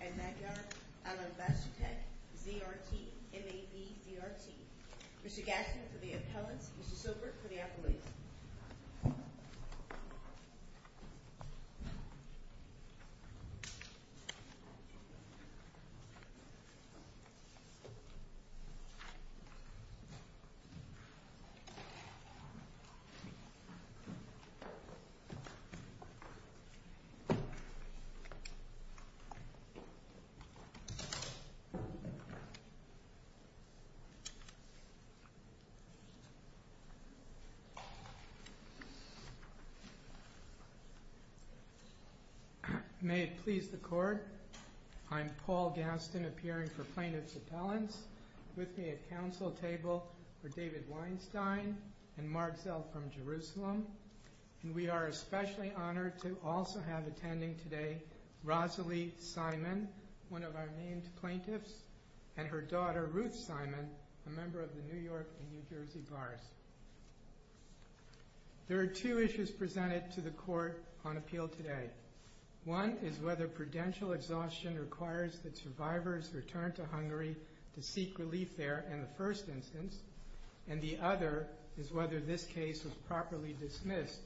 and Magyar, an ambassador tech, ZRT, MAV, ZRT. Mr. Gaskin for the appellants, Mr. Silbert for the applicants. May it please the court, I'm Paul Gaskin appearing for plaintiff's appellants. With me at council table are David Weinstein and Mark Zell from Jerusalem. And we are especially honored to also have attending today Rosalie Simon, one of our named plaintiffs, and her daughter Ruth Simon, a member of the New York and New Jersey Bars. There are two issues presented to the court on appeal today. One is whether prudential exhaustion requires that survivors return to Hungary to seek relief there in the first instance, and the other is whether this case was properly dismissed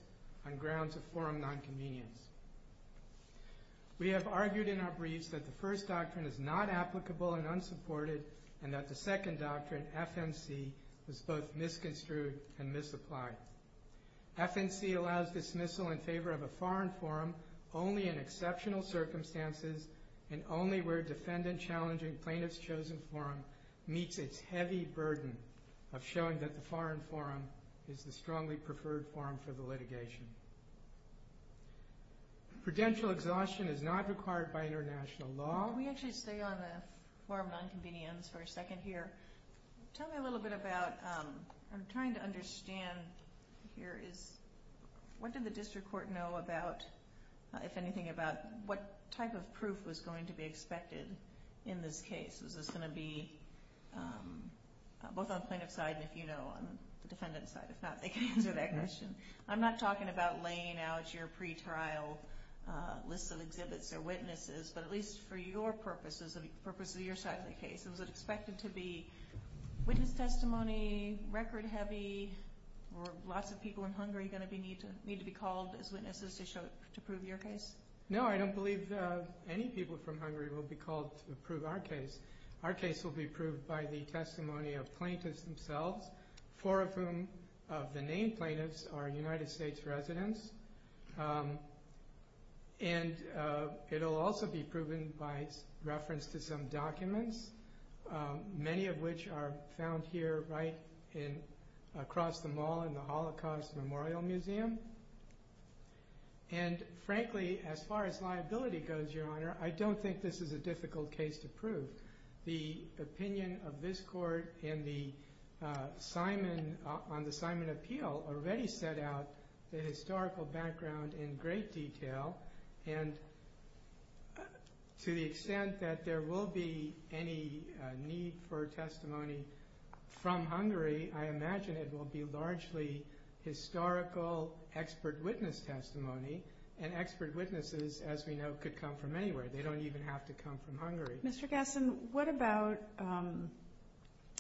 on grounds of forum nonconvenience. We have argued in our briefs that the first doctrine is not applicable and unsupported, and that the second doctrine, FMC, was both misconstrued and misapplied. FMC allows dismissal in favor of a foreign forum only in exceptional circumstances and only where defendant challenging plaintiff's chosen forum meets its heavy burden of showing that the foreign forum is the strongly preferred forum for the litigation. Prudential exhaustion is not required by international law. Can we actually stay on the forum nonconvenience for a second here? Tell me a little bit about, I'm trying to understand here, what did the district court know about, if anything, about what type of proof was going to be expected in this case? Was this going to be both on the plaintiff's side and, if you know, on the defendant's side? If not, they can answer that question. I'm not talking about laying out your pretrial list of exhibits or witnesses, but at least for your purposes, the purposes of your side of the case. Was it expected to be witness testimony, record heavy? Were lots of people in Hungary going to need to be called as witnesses to prove your case? No, I don't believe any people from Hungary will be called to prove our case. Our case will be proved by the testimony of plaintiffs themselves, four of whom of the named plaintiffs are United States residents. And it will also be proven by reference to some documents, many of which are found here right across the mall in the Holocaust Memorial Museum. And frankly, as far as liability goes, Your Honor, I don't think this is a difficult case to prove. The opinion of this Court on the Simon Appeal already set out the historical background in great detail. And to the extent that there will be any need for testimony from Hungary, I imagine it will be largely historical expert witness testimony. And expert witnesses, as we know, could come from anywhere. Mr. Gasson, what about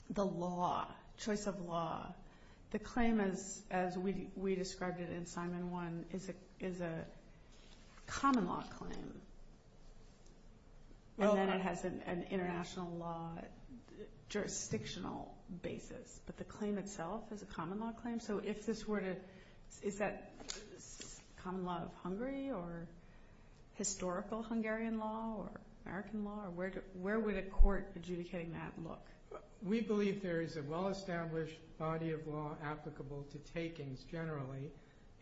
the law, choice of law? The claim, as we described it in Simon 1, is a common law claim. And then it has an international law jurisdictional basis. But the claim itself is a common law claim? So is that common law of Hungary or historical Hungarian law or American law? Where would a court adjudicating that look? We believe there is a well-established body of law applicable to takings generally.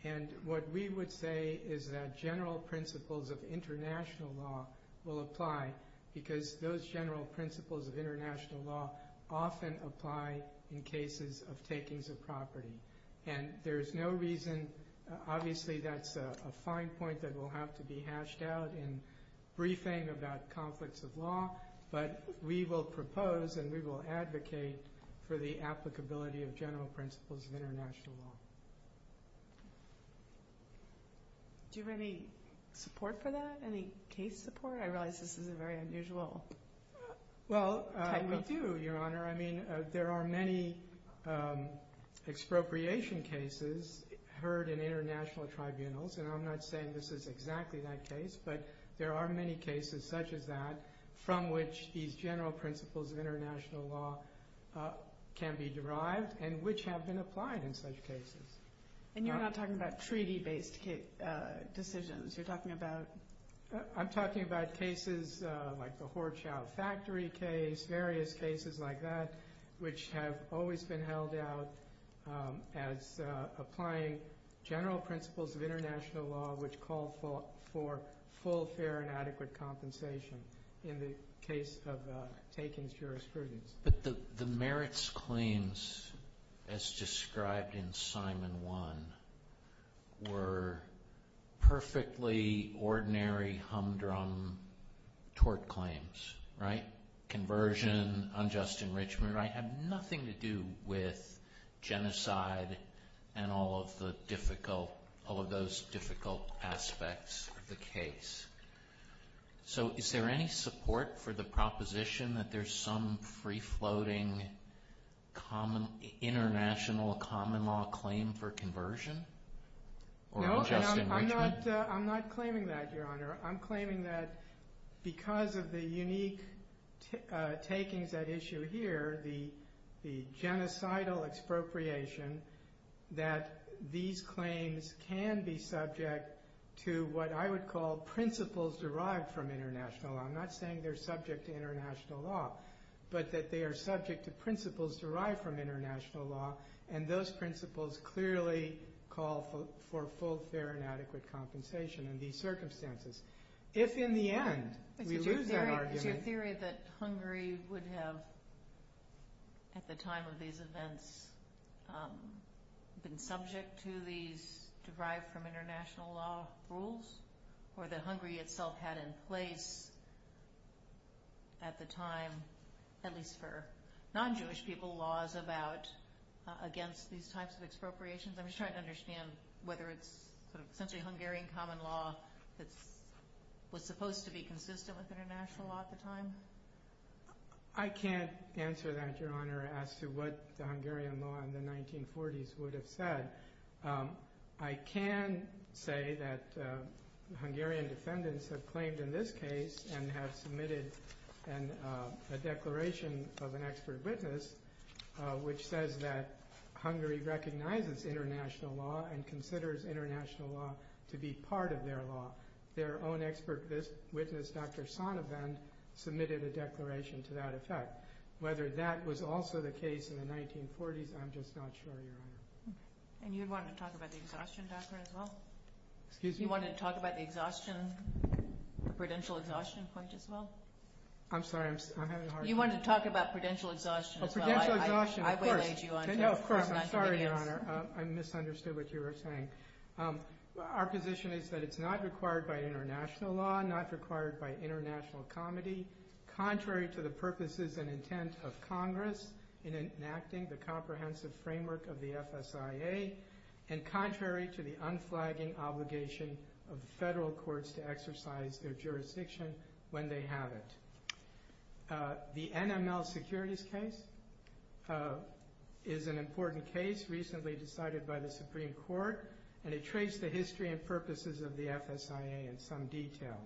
And what we would say is that general principles of international law will apply because those general principles of international law often apply in cases of takings of property. And there is no reason, obviously that's a fine point that will have to be hashed out in briefing about conflicts of law, but we will propose and we will advocate for the applicability of general principles of international law. Do you have any support for that, any case support? I realize this is a very unusual type of thing. Well, we do, Your Honor. I mean, there are many expropriation cases heard in international tribunals, and I'm not saying this is exactly that case, but there are many cases such as that from which these general principles of international law can be derived and which have been applied in such cases. And you're not talking about treaty-based decisions? You're talking about? I'm talking about cases like the Horchow factory case, various cases like that, which have always been held out as applying general principles of international law which call for full, fair, and adequate compensation in the case of takings jurisprudence. But the merits claims as described in Simon 1 were perfectly ordinary humdrum tort claims, right? Conversion, unjust enrichment, right? Had nothing to do with genocide and all of the difficult, all of those difficult aspects of the case. So is there any support for the proposition that there's some free-floating, international common law claim for conversion or unjust enrichment? No, I'm not claiming that, Your Honor. I'm claiming that because of the unique takings at issue here, the genocidal expropriation, that these claims can be subject to what I would call principles derived from international law. I'm not saying they're subject to international law, but that they are subject to principles derived from international law and those principles clearly call for full, fair, and adequate compensation in these circumstances. If in the end we lose that argument... Is your theory that Hungary would have, at the time of these events, been subject to these derived-from-international-law rules? Or that Hungary itself had in place, at the time, at least for non-Jewish people, laws about, against these types of expropriations? I'm just trying to understand whether it's essentially Hungarian common law that was supposed to be consistent with international law at the time? I can't answer that, Your Honor, as to what the Hungarian law in the 1940s would have said. I can say that Hungarian defendants have claimed in this case and have submitted a declaration of an expert witness which says that Hungary recognizes international law and considers international law to be part of their law. Their own expert witness, Dr. Sanovan, submitted a declaration to that effect. Whether that was also the case in the 1940s, I'm just not sure, Your Honor. And you wanted to talk about the exhaustion doctrine as well? Excuse me? You wanted to talk about the exhaustion, the prudential exhaustion point as well? I'm sorry, I'm having a hard time... You wanted to talk about prudential exhaustion as well. Prudential exhaustion, of course. I belayed you onto it. No, of course, I'm sorry, Your Honor. I misunderstood what you were saying. Our position is that it's not required by international law, not required by international comedy, contrary to the purposes and intent of Congress in enacting the comprehensive framework of the FSIA and contrary to the unflagging obligation of the federal courts to exercise their jurisdiction when they have it. The NML securities case is an important case recently decided by the Supreme Court and it traced the history and purposes of the FSIA in some detail.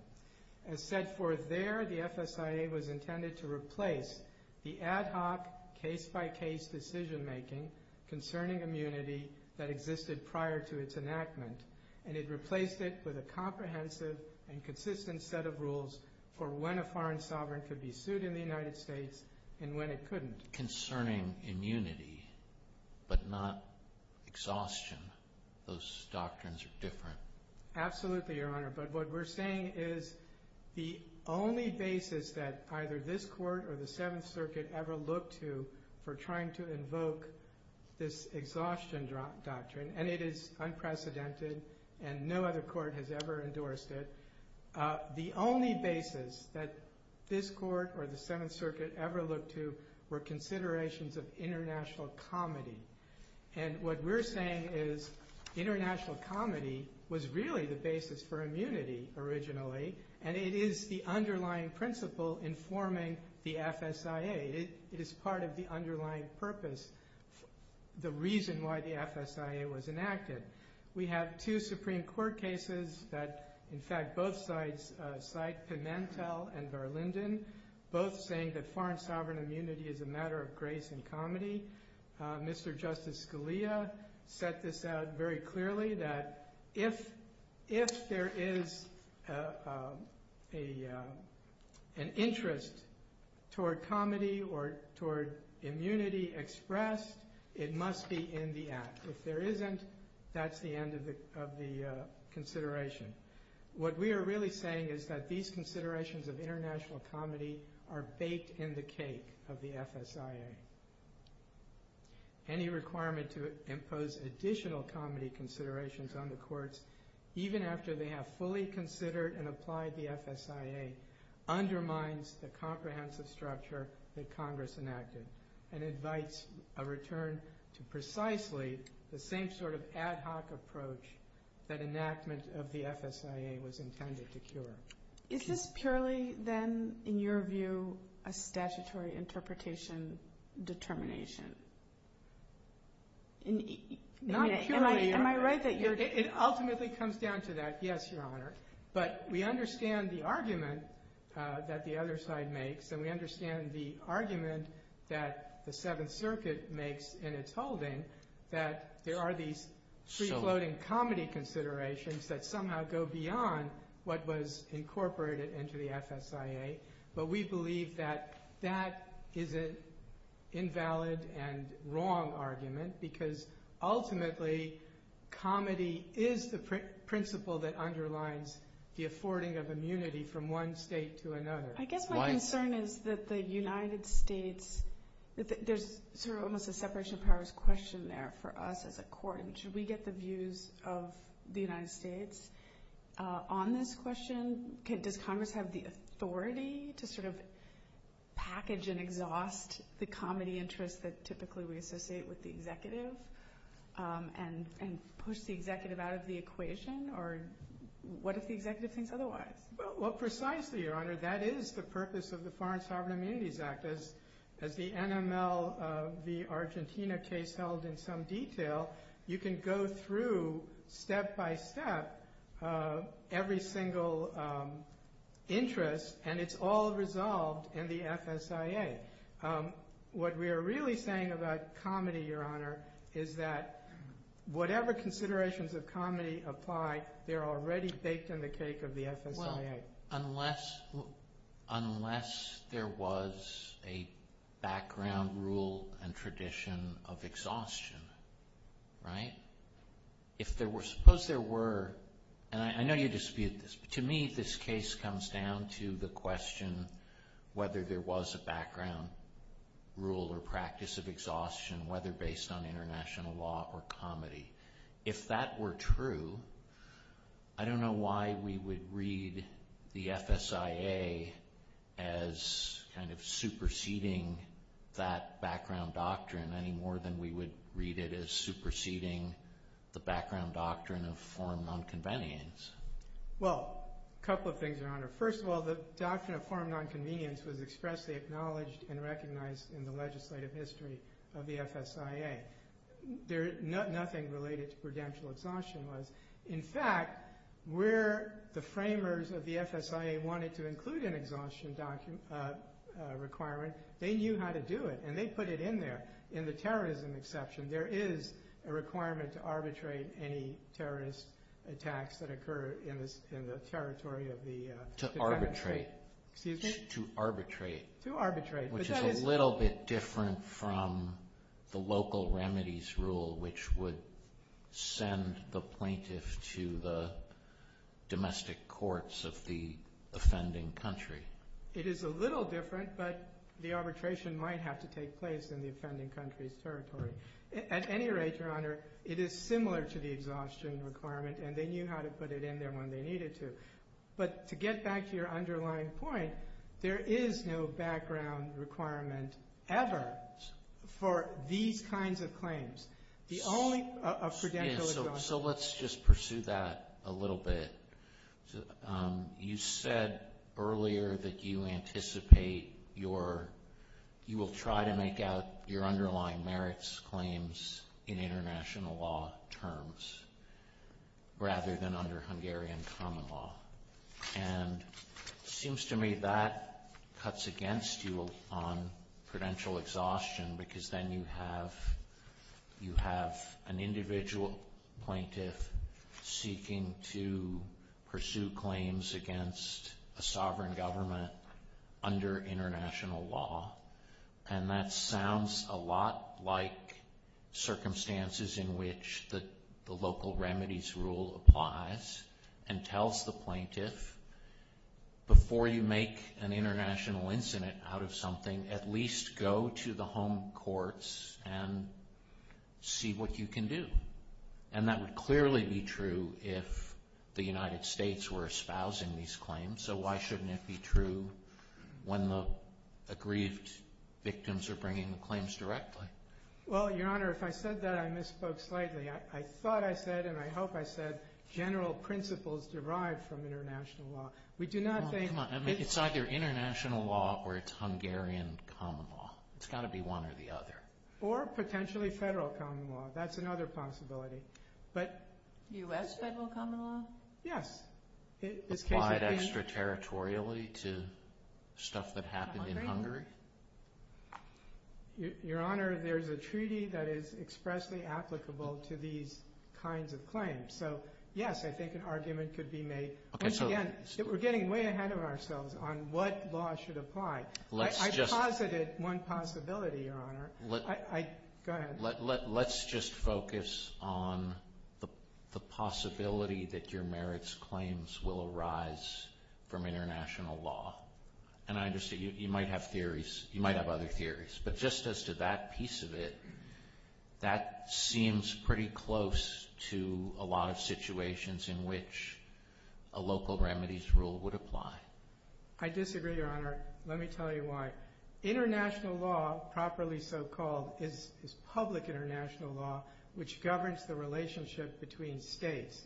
As set forth there, the FSIA was intended to replace the ad hoc case-by-case decision-making concerning immunity that existed prior to its enactment and it replaced it with a comprehensive and consistent set of rules for when a foreign sovereign could be sued in the United States and when it couldn't. Concerning immunity, but not exhaustion. Those doctrines are different. Absolutely, Your Honor, but what we're saying is the only basis that either this court or the Seventh Circuit ever looked to for trying to invoke this exhaustion doctrine, and it is unprecedented and no other court has ever endorsed it, the only basis that this court or the Seventh Circuit ever looked to were considerations of international comity. And what we're saying is international comity was really the basis for immunity originally and it is the underlying principle informing the FSIA. It is part of the underlying purpose, the reason why the FSIA was enacted. We have two Supreme Court cases that in fact both sides cite, Pimentel and Berlinden, both saying that foreign sovereign immunity is a matter of grace and comity. Mr. Justice Scalia set this out very clearly that if there is an interest toward comity or toward immunity expressed, it must be in the act. If there isn't, that's the end of the consideration. What we are really saying is that these considerations of international comity are baked in the cake of the FSIA. Any requirement to impose additional comity considerations on the courts, even after they have fully considered and applied the FSIA, undermines the comprehensive structure that Congress enacted and invites a return to precisely the same sort of ad hoc approach that enactment of the FSIA was intended to cure. Is this purely then, in your view, a statutory interpretation determination? Not purely, Your Honor. It ultimately comes down to that, yes, Your Honor. But we understand the argument that the other side makes and we understand the argument that the Seventh Circuit makes in its holding that there are these free-floating comity considerations that somehow go beyond what was incorporated into the FSIA, but we believe that that is an invalid and wrong argument because ultimately comity is the principle that underlines the affording of immunity from one state to another. I guess my concern is that the United States, there's sort of almost a separation of powers question there for us as a court. Should we get the views of the United States on this question? Does Congress have the authority to sort of package and exhaust the comity interests that typically we associate with the executive and push the executive out of the equation? Or what if the executive thinks otherwise? Well, precisely, Your Honor, that is the purpose of the Foreign Sovereign Immunities Act. As the NML v. Argentina case held in some detail, you can go through step by step every single interest and it's all resolved in the FSIA. What we are really saying about comity, Your Honor, is that whatever considerations of comity apply, they're already baked in the cake of the FSIA. Unless there was a background rule and tradition of exhaustion, right? Suppose there were, and I know you dispute this, but to me this case comes down to the question whether there was a background rule or practice of exhaustion, whether based on international law or comity. If that were true, I don't know why we would read the FSIA as kind of superseding that background doctrine any more than we would read it as superseding the background doctrine of foreign nonconvenience. Well, a couple of things, Your Honor. First of all, the doctrine of foreign nonconvenience was expressly acknowledged and recognized in the legislative history of the FSIA. Nothing related to prudential exhaustion was. In fact, where the framers of the FSIA wanted to include an exhaustion requirement, they knew how to do it and they put it in there. In the terrorism exception, there is a requirement to arbitrate any terrorist attacks that occur in the territory of the defendants. To arbitrate. Excuse me? To arbitrate. To arbitrate. Which is a little bit different from the local remedies rule which would send the plaintiff to the domestic courts of the offending country. It is a little different, but the arbitration might have to take place in the offending country's territory. At any rate, Your Honor, it is similar to the exhaustion requirement and they knew how to put it in there when they needed to. To get back to your underlying point, there is no background requirement ever for these kinds of claims. The only of prudential exhaustion. Let's just pursue that a little bit. You said earlier that you anticipate you will try to make out your underlying merits claims in international law terms rather than under Hungarian common law. It seems to me that cuts against you on prudential exhaustion because then you have an individual plaintiff seeking to pursue claims against a sovereign government under international law. That sounds a lot like circumstances in which the local remedies rule applies and tells the plaintiff, before you make an international incident out of something, at least go to the home courts and see what you can do. That would clearly be true if the United States were espousing these claims. Why shouldn't it be true when the aggrieved victims are bringing the claims directly? Your Honor, if I said that, I misspoke slightly. I thought I said and I hope I said general principles derived from international law. It's either international law or it's Hungarian common law. It's got to be one or the other. Or potentially federal common law. That's another possibility. U.S. federal common law? Yes. Applied extraterritorially to stuff that happened in Hungary? Your Honor, there's a treaty that is expressly applicable to these kinds of claims. So, yes, I think an argument could be made. Once again, we're getting way ahead of ourselves on what law should apply. I posited one possibility, Your Honor. Go ahead. Let's just focus on the possibility that your merits claims will arise from international law. And I understand you might have theories. You might have other theories. But just as to that piece of it, that seems pretty close to a lot of situations in which a local remedies rule would apply. I disagree, Your Honor. Let me tell you why. International law, properly so-called, is public international law, which governs the relationship between states.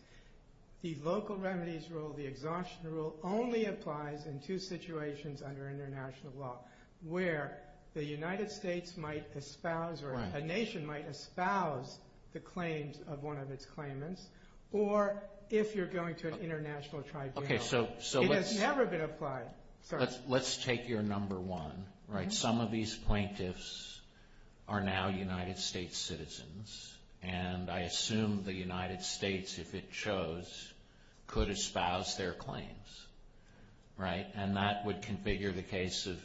The local remedies rule, the exhaustion rule, only applies in two situations under international law, where the United States might espouse or a nation might espouse the claims of one of its claimants, or if you're going to an international tribunal. It has never been applied. Let's take your number one. Some of these plaintiffs are now United States citizens. And I assume the United States, if it chose, could espouse their claims. And that would configure the case of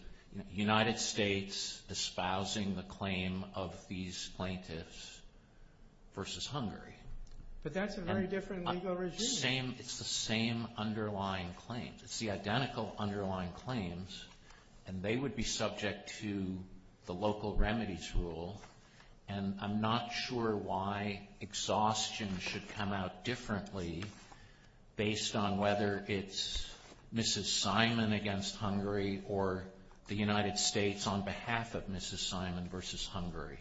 United States espousing the claim of these plaintiffs versus Hungary. But that's a very different legal regime. It's the same underlying claim. It's the identical underlying claims, and they would be subject to the local remedies rule. And I'm not sure why exhaustion should come out differently based on whether it's Mrs. Simon against Hungary or the United States on behalf of Mrs. Simon versus Hungary.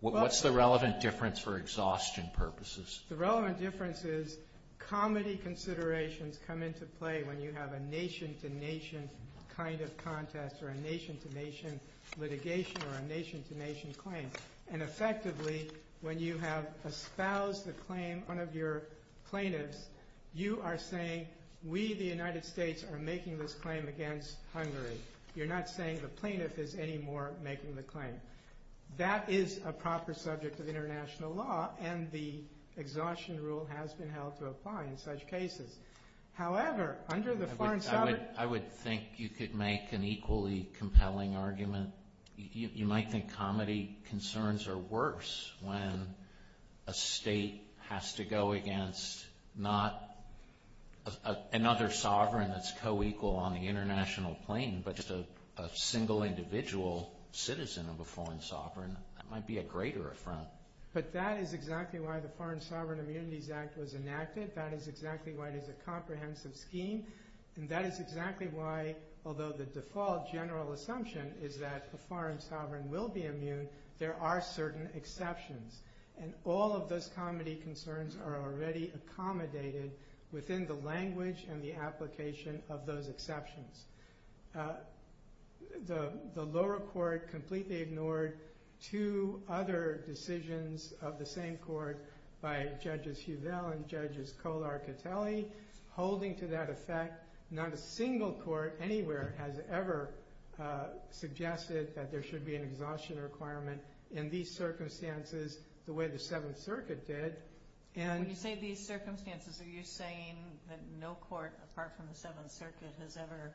What's the relevant difference for exhaustion purposes? The relevant difference is comedy considerations come into play when you have a nation-to-nation kind of contest or a nation-to-nation litigation or a nation-to-nation claim. And effectively, when you have espoused the claim, one of your plaintiffs, you are saying we, the United States, are making this claim against Hungary. You're not saying the plaintiff is anymore making the claim. That is a proper subject of international law, and the exhaustion rule has been held to apply in such cases. However, under the foreign sovereign... I would think you could make an equally compelling argument. You might think comedy concerns are worse when a state has to go against not another sovereign that's co-equal on the international plane, but just a single individual citizen of a foreign sovereign. That might be a greater affront. But that is exactly why the Foreign Sovereign Immunities Act was enacted. That is exactly why it is a comprehensive scheme. And that is exactly why, although the default general assumption is that a foreign sovereign will be immune, there are certain exceptions. And all of those comedy concerns are already accommodated within the language and the application of those exceptions. The lower court completely ignored two other decisions of the same court by Judges Huvel and Judges Kolar-Catelli. Holding to that effect, not a single court anywhere has ever suggested that there should be an exhaustion requirement in these circumstances the way the Seventh Circuit did. When you say these circumstances, are you saying that no court apart from the Seventh Circuit has ever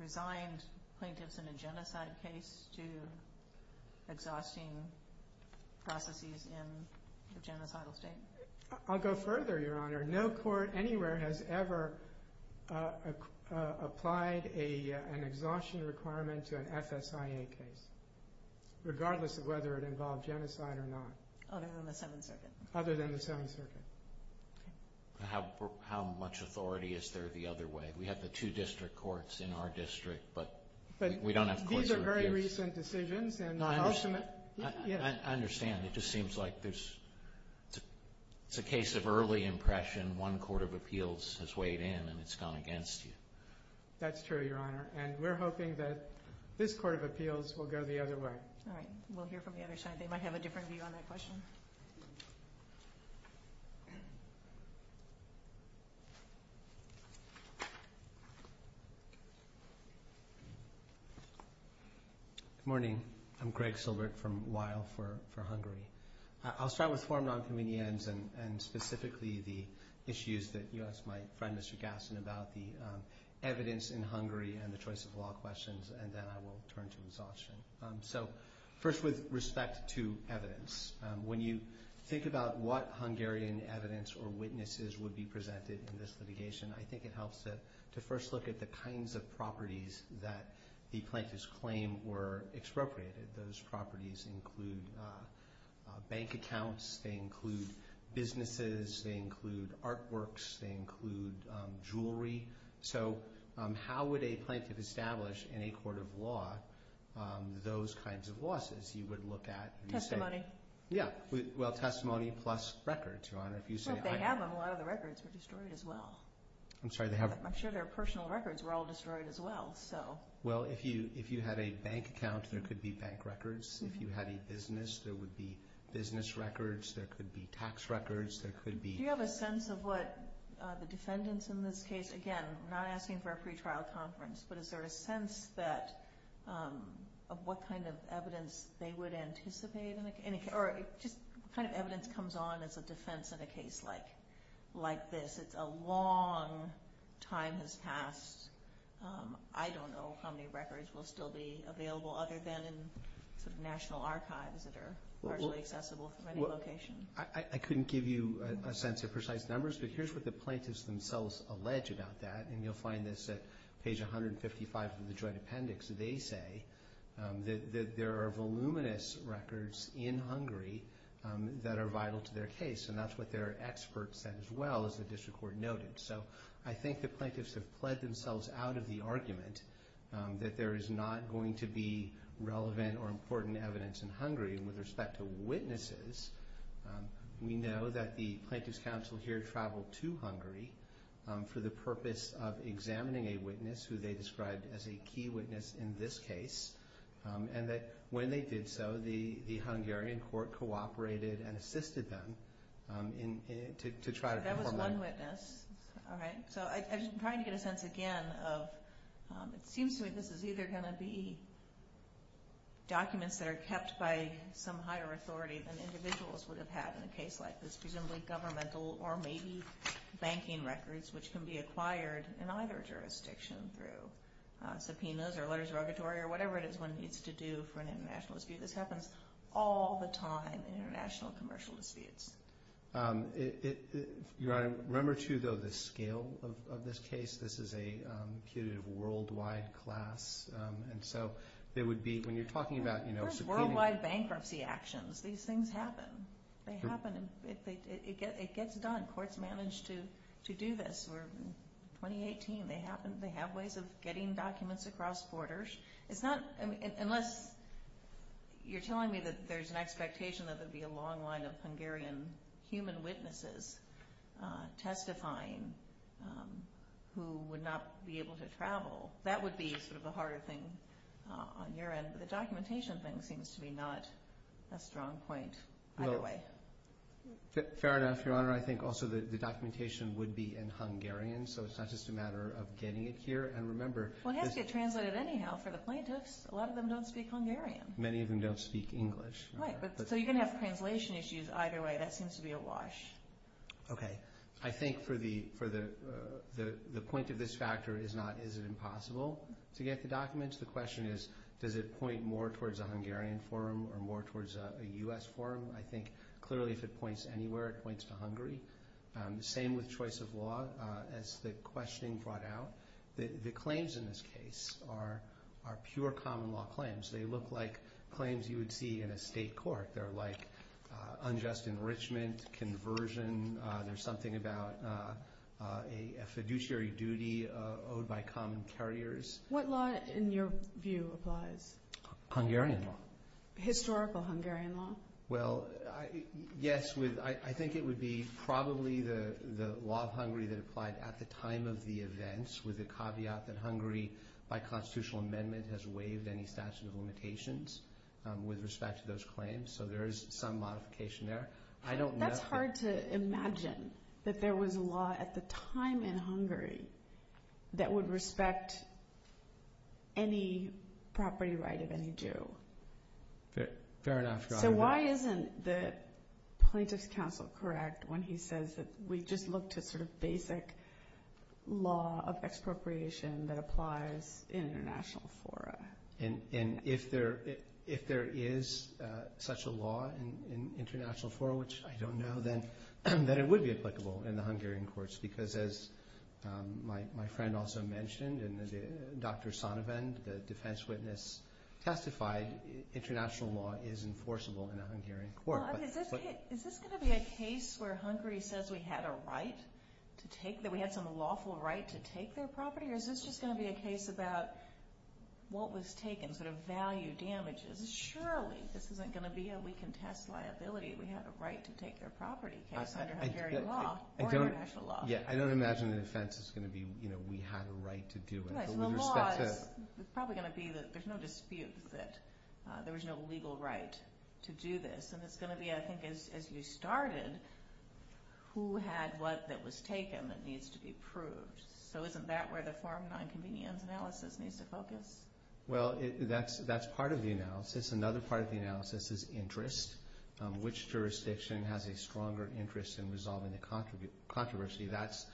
resigned plaintiffs in a genocide case to exhausting processes in a genocidal state? I'll go further, Your Honor. No court anywhere has ever applied an exhaustion requirement to an FSIA case, regardless of whether it involved genocide or not. Other than the Seventh Circuit. Other than the Seventh Circuit. How much authority is there the other way? We have the two district courts in our district, but we don't have courts that would give us... These are very recent decisions. I understand. It just seems like it's a case of early impression. One court of appeals has weighed in, and it's gone against you. That's true, Your Honor. And we're hoping that this court of appeals will go the other way. All right. We'll hear from the other side. They might have a different view on that question. Good morning. I'm Greg Silbert from Weill for Hungary. I'll start with four nonconvenience and specifically the issues that you asked my friend, Mr. Gasson, about the evidence in Hungary and the choice of law questions, and then I will turn to exhaustion. First, with respect to evidence, when you think about what Hungarian evidence or witnesses would be presented in this litigation, I think it helps to first look at the kinds of properties that the plaintiff's claim were expropriated. Those properties include bank accounts. They include businesses. They include artworks. They include jewelry. So how would a plaintiff establish in a court of law those kinds of losses? You would look at testimony. Yeah. Well, testimony plus records, Your Honor. They have them. A lot of the records were destroyed as well. I'm sorry. I'm sure their personal records were all destroyed as well. Well, if you had a bank account, there could be bank records. If you had a business, there would be business records. There could be tax records. Do you have a sense of what the defendants in this case, again, I'm not asking for a pretrial conference, but is there a sense of what kind of evidence they would anticipate? What kind of evidence comes on as a defense in a case like this? It's a long time has passed. I don't know how many records will still be available other than in national archives that are partially accessible from any location. I couldn't give you a sense of precise numbers, but here's what the plaintiffs themselves allege about that, and you'll find this at page 155 of the joint appendix. They say that there are voluminous records in Hungary that are vital to their case, and that's what their experts said as well as the district court noted. So I think the plaintiffs have pled themselves out of the argument that there is not going to be relevant or important evidence in Hungary with respect to witnesses. We know that the plaintiffs' counsel here traveled to Hungary for the purpose of examining a witness who they described as a key witness in this case, and that when they did so, the Hungarian court cooperated and assisted them to try to perform their work. All right. So I'm trying to get a sense again of it seems to me this is either going to be documents that are kept by some higher authority than individuals would have had in a case like this, presumably governmental or maybe banking records, which can be acquired in either jurisdiction through subpoenas or letters of orgatory or whatever it is one needs to do for an international dispute. This happens all the time in international commercial disputes. Your Honor, remember too though the scale of this case. This is a worldwide class, and so there would be, when you're talking about subpoenas. There's worldwide bankruptcy actions. These things happen. They happen. It gets done. Courts managed to do this in 2018. They have ways of getting documents across borders. Unless you're telling me that there's an expectation that there would be a long line of Hungarian human witnesses testifying who would not be able to travel, that would be sort of the harder thing on your end, but the documentation thing seems to be not a strong point either way. Fair enough, Your Honor. I think also the documentation would be in Hungarian, so it's not just a matter of getting it here. Well, it has to get translated anyhow for the plaintiffs. A lot of them don't speak Hungarian. Many of them don't speak English. Right, so you're going to have translation issues either way. That seems to be a wash. Okay. I think for the point of this factor is not is it impossible to get the documents. The question is does it point more towards a Hungarian forum or more towards a U.S. forum. I think clearly if it points anywhere, it points to Hungary. Same with choice of law as the questioning brought out. The claims in this case are pure common law claims. They look like claims you would see in a state court. They're like unjust enrichment, conversion. There's something about a fiduciary duty owed by common carriers. What law in your view applies? Hungarian law. Historical Hungarian law? Well, yes. I think it would be probably the law of Hungary that applied at the time of the events with the caveat that Hungary by constitutional amendment has waived any statute of limitations with respect to those claims, so there is some modification there. That's hard to imagine that there was a law at the time in Hungary that would respect any property right of any Jew. Fair enough. Why isn't the plaintiff's counsel correct when he says that we just look to sort of basic law of expropriation that applies in international fora? If there is such a law in international fora, which I don't know, then it would be applicable in the Hungarian courts because as my friend also mentioned and as Dr. Sonnevend, the defense witness testified, international law is enforceable in a Hungarian court. Is this going to be a case where Hungary says we had a right to take, that we had some lawful right to take their property, or is this just going to be a case about what was taken, sort of value damages? Surely this isn't going to be a we can test liability. We have a right to take their property case under Hungarian law or international law. I don't imagine the defense is going to be we had a right to do it. The law is probably going to be that there's no dispute that there was no legal right to do this. It's going to be, I think, as you started, who had what that was taken that needs to be proved. Isn't that where the form of nonconvenience analysis needs to focus? That's part of the analysis. Another part of the analysis is interest. Which jurisdiction has a stronger interest in resolving the controversy? That's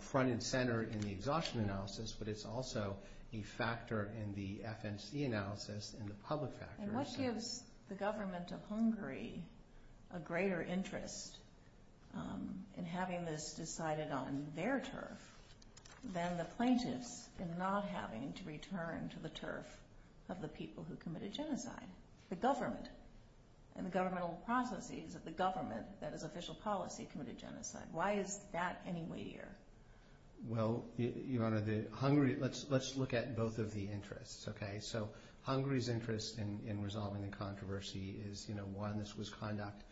front and center in the exhaustion analysis, but it's also a factor in the FNC analysis and the public factor. What gives the government of Hungary a greater interest in having this decided on their turf than the plaintiffs in not having to return to the turf of the people who committed genocide? The government and the governmental processes of the government, that is official policy, committed genocide. Why is that any weightier? Well, Your Honor, let's look at both of the interests. Hungary's interest in resolving the controversy is, one, this was conduct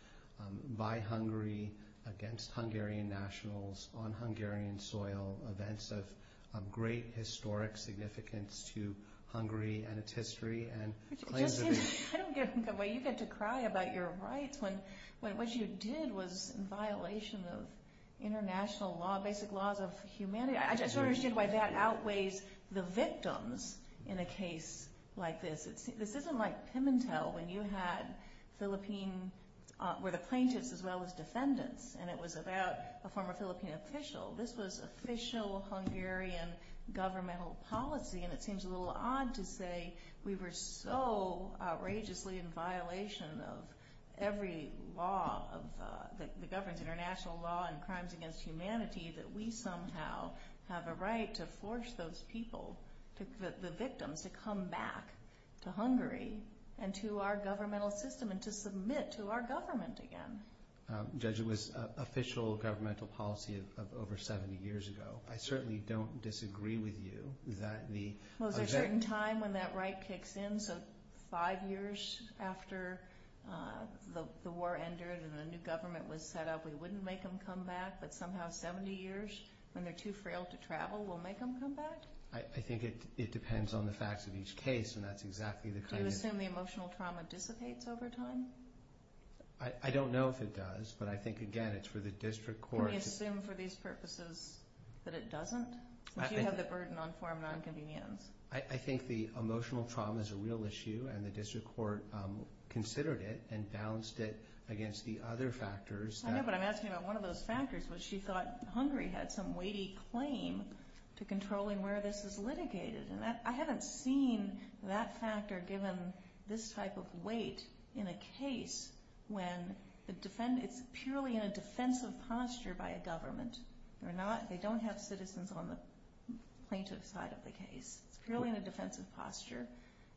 by Hungary against Hungarian nationals on Hungarian soil, events of great historic significance to Hungary and its history. I don't get why you get to cry about your rights when what you did was in violation of international law, basic laws of humanity. I just don't understand why that outweighs the victims in a case like this. This isn't like Pimentel when you had Philippine, where the plaintiffs as well as defendants, and it was about a former Philippine official. This was official Hungarian governmental policy, and it seems a little odd to say we were so outrageously in violation of every law that governs international law and crimes against humanity that we somehow have a right to force those people, the victims, to come back to Hungary and to our governmental system and to submit to our government again. Judge, it was official governmental policy of over 70 years ago. I certainly don't disagree with you that the— Well, there's a certain time when that right kicks in, so five years after the war ended and a new government was set up, we wouldn't make them come back, but somehow 70 years, when they're too frail to travel, we'll make them come back? I think it depends on the facts of each case, and that's exactly the kind of— Do you assume the emotional trauma dissipates over time? I don't know if it does, but I think, again, it's for the district court— Do you assume for these purposes that it doesn't, that you have the burden on foreign nonconvenience? I think the emotional trauma is a real issue, and the district court considered it and balanced it against the other factors. I know, but I'm asking about one of those factors, which she thought Hungary had some weighty claim to controlling where this is litigated, and I haven't seen that factor given this type of weight in a case when it's purely in a defensive posture by a government. They don't have citizens on the plaintiff's side of the case. It's purely in a defensive posture,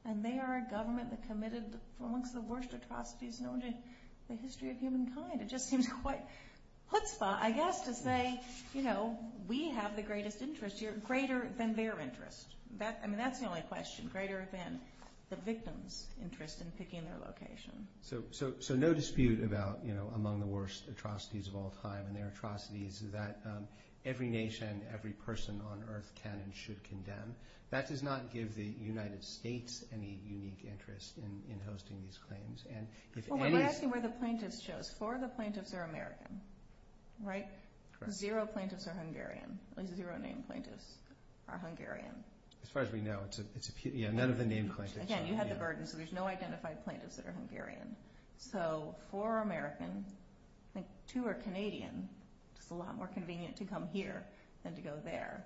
and they are a government that committed amongst the worst atrocities known in the history of humankind. It just seems quite chutzpah, I guess, to say, you know, we have the greatest interest here, greater than their interest. I mean, that's the only question, greater than the victim's interest in picking their location. So no dispute about, you know, among the worst atrocities of all time, and there are atrocities that every nation, every person on earth can and should condemn. That does not give the United States any unique interest in hosting these claims. We're asking where the plaintiffs chose. Four of the plaintiffs are American, right? Zero plaintiffs are Hungarian. At least zero named plaintiffs are Hungarian. As far as we know, none of the named plaintiffs. Again, you had the burden, so there's no identified plaintiffs that are Hungarian. So four are American, I think two are Canadian. It's a lot more convenient to come here than to go there.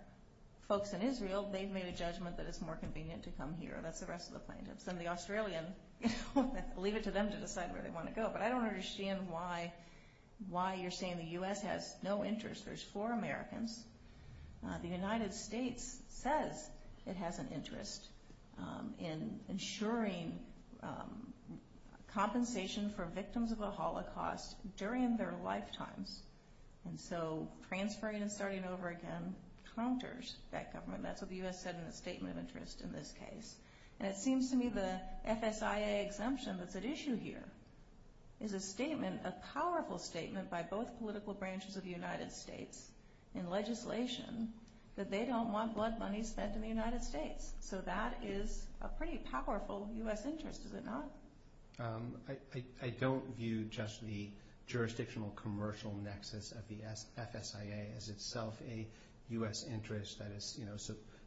Folks in Israel, they've made a judgment that it's more convenient to come here. That's the rest of the plaintiffs. And the Australian, you know, leave it to them to decide where they want to go. But I don't understand why you're saying the U.S. has no interest. There's four Americans. The United States says it has an interest in ensuring compensation for victims of a Holocaust during their lifetimes. And so transferring and starting over again counters that government. That's what the U.S. said in its statement of interest in this case. And it seems to me the FSIA exemption that's at issue here is a statement, by both political branches of the United States in legislation, that they don't want blood money spent in the United States. So that is a pretty powerful U.S. interest, is it not? I don't view just the jurisdictional commercial nexus of the FSIA as itself a U.S. interest that is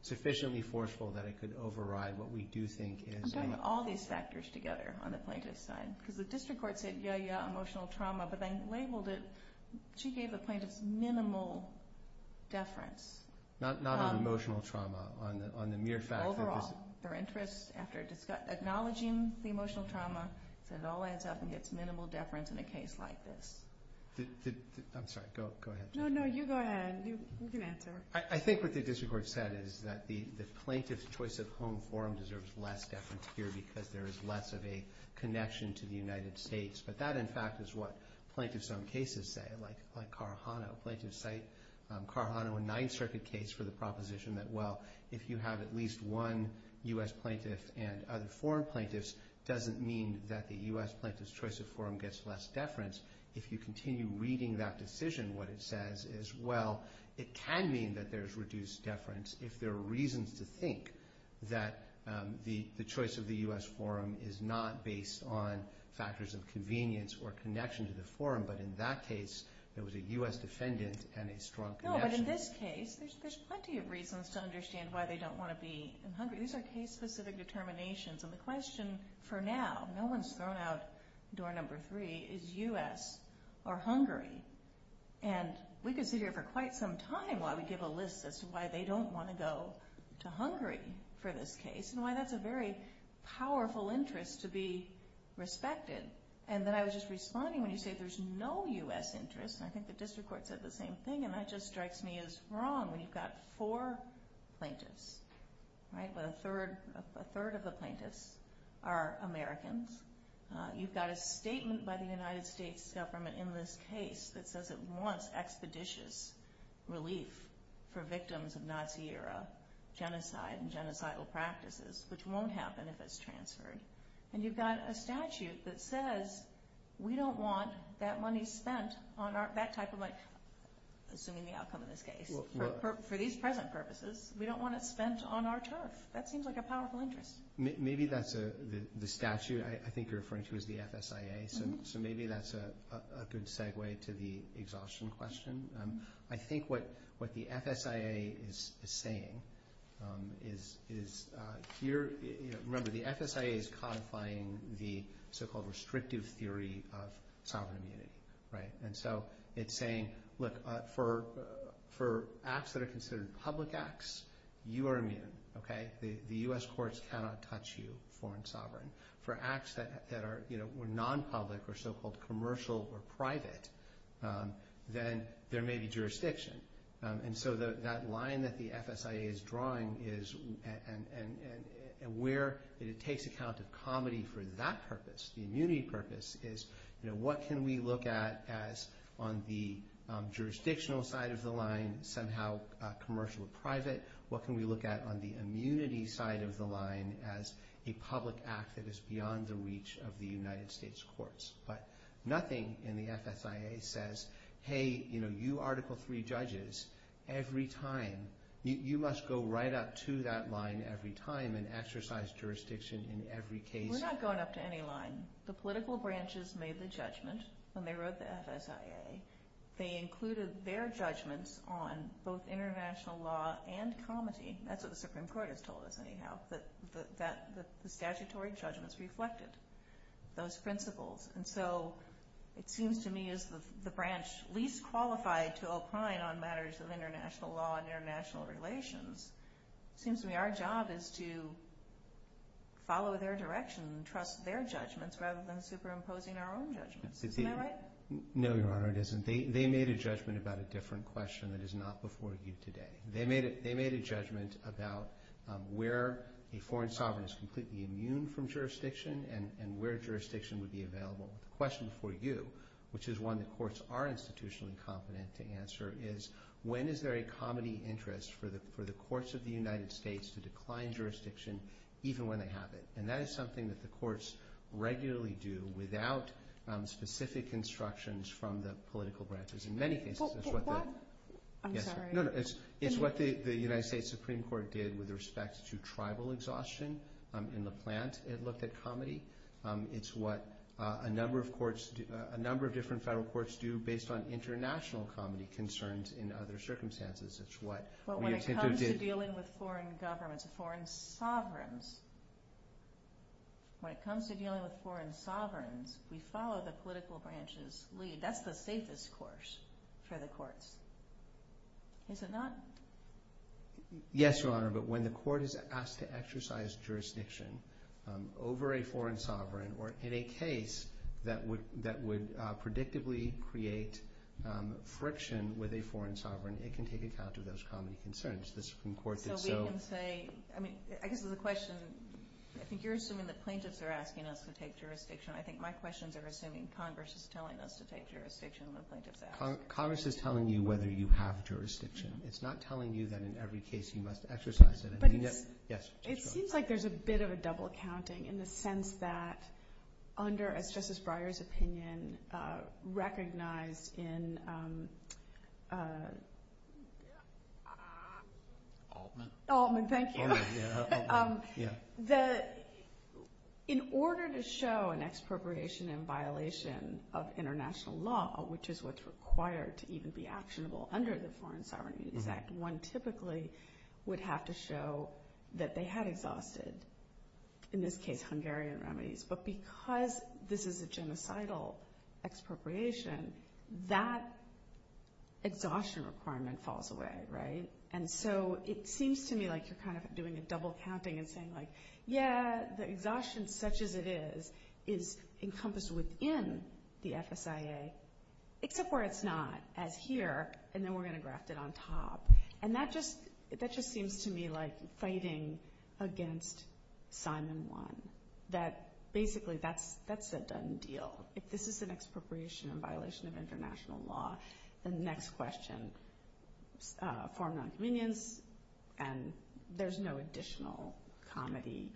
sufficiently forceful that it could override what we do think is a— I'm doing all these factors together on the plaintiff's side. Because the district court said, yeah, yeah, emotional trauma, but then labeled it— she gave the plaintiff's minimal deference. Not on emotional trauma, on the mere fact that there's— Overall, their interest, after acknowledging the emotional trauma, said it all adds up and gets minimal deference in a case like this. I'm sorry, go ahead. No, no, you go ahead. You can answer. I think what the district court said is that the plaintiff's choice of home form deserves less deference here because there is less of a connection to the United States. But that, in fact, is what plaintiffs on cases say, like Carjano. Plaintiffs cite Carjano in Ninth Circuit case for the proposition that, well, if you have at least one U.S. plaintiff and other foreign plaintiffs, doesn't mean that the U.S. plaintiff's choice of form gets less deference. If you continue reading that decision, what it says is, well, it can mean that there's reduced deference if there are reasons to think that the choice of the U.S. form is not based on factors of convenience or connection to the form, but in that case, there was a U.S. defendant and a strong connection. No, but in this case, there's plenty of reasons to understand why they don't want to be in Hungary. These are case-specific determinations, and the question for now, no one's thrown out door number three, is U.S. or Hungary. And we could sit here for quite some time while we give a list as to why they don't want to go to Hungary for this case and why that's a very powerful interest to be respected. And then I was just responding when you say there's no U.S. interest, and I think the district court said the same thing, and that just strikes me as wrong, when you've got four plaintiffs, right, but a third of the plaintiffs are Americans. You've got a statement by the United States government in this case that says it wants expeditious relief for victims of Nazi-era genocide and genocidal practices, which won't happen if it's transferred. And you've got a statute that says we don't want that money spent on that type of money, assuming the outcome of this case, for these present purposes, we don't want it spent on our turf. That seems like a powerful interest. Maybe that's the statute I think you're referring to as the FSIA, so maybe that's a good segue to the exhaustion question. I think what the FSIA is saying is here – remember, the FSIA is codifying the so-called restrictive theory of sovereign immunity. And so it's saying, look, for acts that are considered public acts, you are immune. Okay? The U.S. courts cannot touch you, foreign sovereign. For acts that are non-public or so-called commercial or private, then there may be jurisdiction. And so that line that the FSIA is drawing is – and where it takes account of comedy for that purpose, the immunity purpose, is what can we look at as on the jurisdictional side of the line somehow commercial or private? What can we look at on the immunity side of the line as a public act that is beyond the reach of the United States courts? But nothing in the FSIA says, hey, you Article III judges, every time – you must go right up to that line every time and exercise jurisdiction in every case. We're not going up to any line. The political branches made the judgment when they wrote the FSIA. They included their judgments on both international law and comedy. That's what the Supreme Court has told us anyhow, that the statutory judgments reflected those principles. And so it seems to me as the branch least qualified to opine on matters of international law and international relations, it seems to me our job is to follow their direction and trust their judgments rather than superimposing our own judgments. Isn't that right? No, Your Honor, it isn't. They made a judgment about a different question that is not before you today. They made a judgment about where a foreign sovereign is completely immune from jurisdiction and where jurisdiction would be available. The question before you, which is one the courts are institutionally competent to answer, is when is there a comedy interest for the courts of the United States to decline jurisdiction even when they have it? And that is something that the courts regularly do without specific instructions from the political branches in many cases. I'm sorry. It's what the United States Supreme Court did with respect to tribal exhaustion in Lapland. It looked at comedy. It's what a number of different federal courts do based on international comedy concerns in other circumstances. But when it comes to dealing with foreign governments, foreign sovereigns, when it comes to dealing with foreign sovereigns, we follow the political branches' lead. That's the safest course for the courts, is it not? Yes, Your Honor, but when the court is asked to exercise jurisdiction over a foreign sovereign or in a case that would predictably create friction with a foreign sovereign, it can take account of those comedy concerns. The Supreme Court did so. So we can say, I mean, I guess there's a question. I think you're assuming that plaintiffs are asking us to take jurisdiction. I think my questions are assuming Congress is telling us to take jurisdiction when plaintiffs ask. Congress is telling you whether you have jurisdiction. It's not telling you that in every case you must exercise it. But it seems like there's a bit of a double counting in the sense that under, as Justice Breyer's opinion recognized in Altman. Altman, thank you. In order to show an expropriation in violation of international law, which is what's required to even be actionable under the Foreign Sovereignty Act, one typically would have to show that they had exhausted, in this case, Hungarian remedies. But because this is a genocidal expropriation, that exhaustion requirement falls away, right? And so it seems to me like you're kind of doing a double counting and saying, like, yeah, the exhaustion such as it is is encompassed within the FSIA, except where it's not, as here, and then we're going to graft it on top. And that just seems to me like fighting against Simon 1. That basically that's a done deal. If this is an expropriation in violation of international law, then the next question is foreign non-convenience, and there's no additional comedy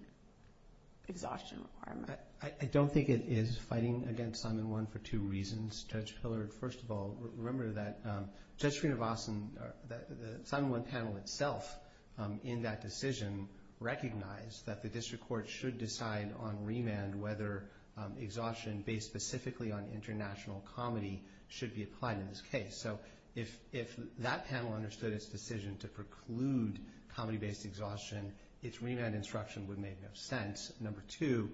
exhaustion requirement. I don't think it is fighting against Simon 1 for two reasons. Judge Pillard, first of all, remember that Judge Srinivasan, the Simon 1 panel itself in that decision recognized that the district court should decide on remand whether exhaustion based specifically on international comedy should be applied in this case. So if that panel understood its decision to preclude comedy-based exhaustion, its remand instruction would make no sense. Number two,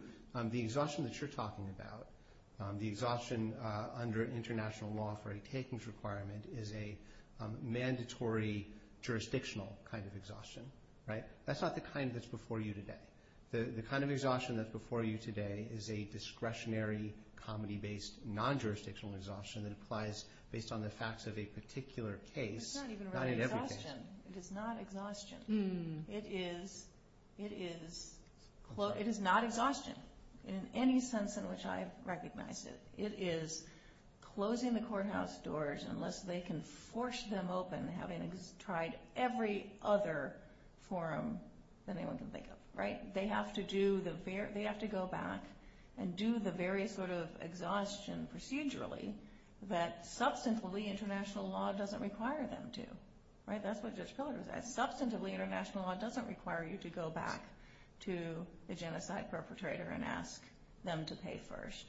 the exhaustion that you're talking about, the exhaustion under international law for a takings requirement is a mandatory jurisdictional kind of exhaustion, right? That's not the kind that's before you today. The kind of exhaustion that's before you today is a discretionary comedy-based non-jurisdictional exhaustion that applies based on the facts of a particular case, not in every case. It's not even really exhaustion. It is not exhaustion. It is not exhaustion in any sense in which I recognize it. It is closing the courthouse doors unless they can force them open having tried every other forum that anyone can think of, right? They have to go back and do the various sort of exhaustion procedurally that substantively international law doesn't require them to. That's what Judge Pillard was asking. Substantively international law doesn't require you to go back to the genocide perpetrator and ask them to pay first.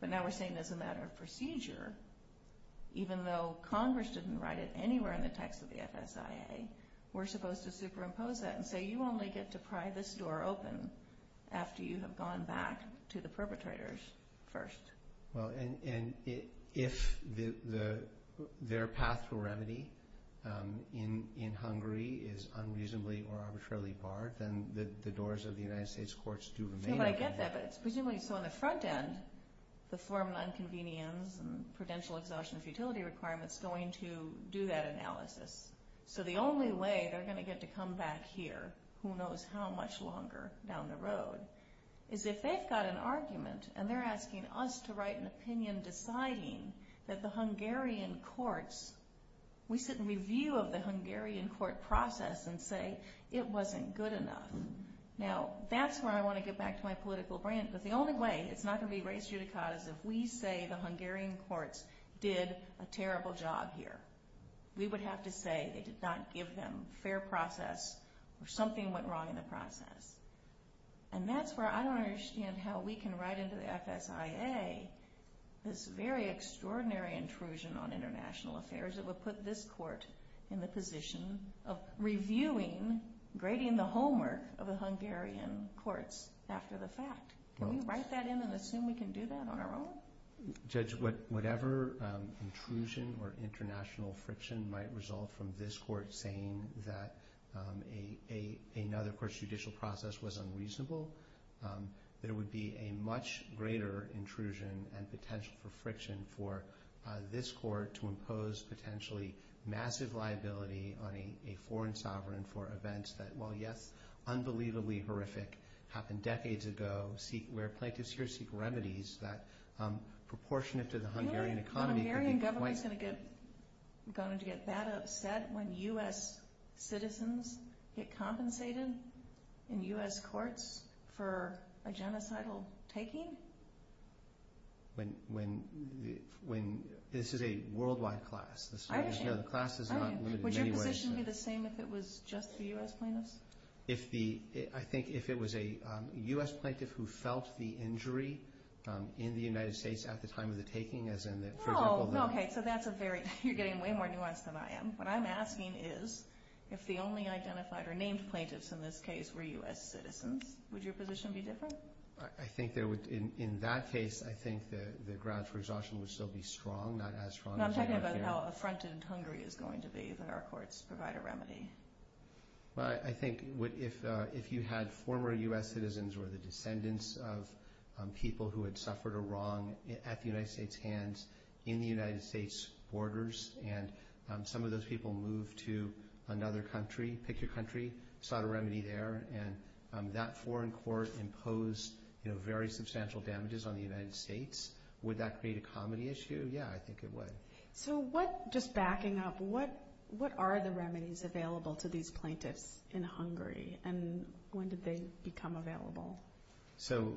But now we're saying as a matter of procedure, even though Congress didn't write it anywhere in the text of the FSIA, we're supposed to superimpose that and say you only get to pry this door open after you have gone back to the perpetrators first. Well, and if their path to remedy in Hungary is unreasonably or arbitrarily barred, then the doors of the United States courts do remain open. I get that, but it's presumably so on the front end, the forum and inconvenience and prudential exhaustion of utility requirements going to do that analysis. So the only way they're going to get to come back here, who knows how much longer down the road, is if they've got an argument and they're asking us to write an opinion deciding that the Hungarian courts, we sit and review of the Hungarian court process and say it wasn't good enough. Now, that's where I want to get back to my political brand, but the only way it's not going to be raised judicata is if we say the Hungarian courts did a terrible job here. We would have to say they did not give them fair process or something went wrong in the process. And that's where I don't understand how we can write into the FSIA this very extraordinary intrusion on international affairs that would put this court in the position of reviewing, grading the homework of the Hungarian courts after the fact. Can we write that in and assume we can do that on our own? Judge, whatever intrusion or international friction might result from this court saying that another court's judicial process was unreasonable, there would be a much greater intrusion and potential for friction for this court to impose potentially massive liability on a foreign sovereign for events that, while yes, unbelievably horrific, happened decades ago, where plaintiffs here seek remedies that proportionate to the Hungarian economy. So the Hungarian government is going to get that upset when U.S. citizens get compensated in U.S. courts for a genocidal taking? This is a worldwide class. Would your position be the same if it was just the U.S. plaintiffs? I think if it was a U.S. plaintiff who felt the injury in the United States at the time of the taking, as in, for example, the— No, okay, so that's a very—you're getting way more nuanced than I am. What I'm asking is, if the only identified or named plaintiffs in this case were U.S. citizens, would your position be different? I think there would—in that case, I think the ground for exhaustion would still be strong, not as strong as— No, I'm talking about how affronted Hungary is going to be that our courts provide a remedy. Well, I think if you had former U.S. citizens or the descendants of people who had suffered a wrong at the United States hands in the United States borders, and some of those people moved to another country, pick your country, sought a remedy there, and that foreign court imposed very substantial damages on the United States, would that create a comedy issue? Yeah, I think it would. So what—just backing up— what are the remedies available to these plaintiffs in Hungary, and when did they become available? So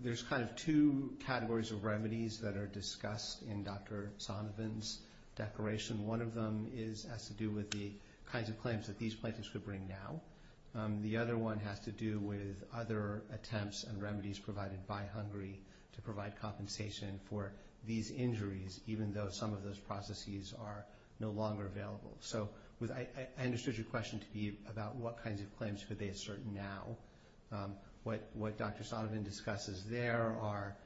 there's kind of two categories of remedies that are discussed in Dr. Sanovan's declaration. One of them has to do with the kinds of claims that these plaintiffs could bring now. The other one has to do with other attempts and remedies provided by Hungary to provide compensation for these injuries, even though some of those processes are no longer available. So I understood your question to be about what kinds of claims could they assert now. What Dr. Sanovan discusses there are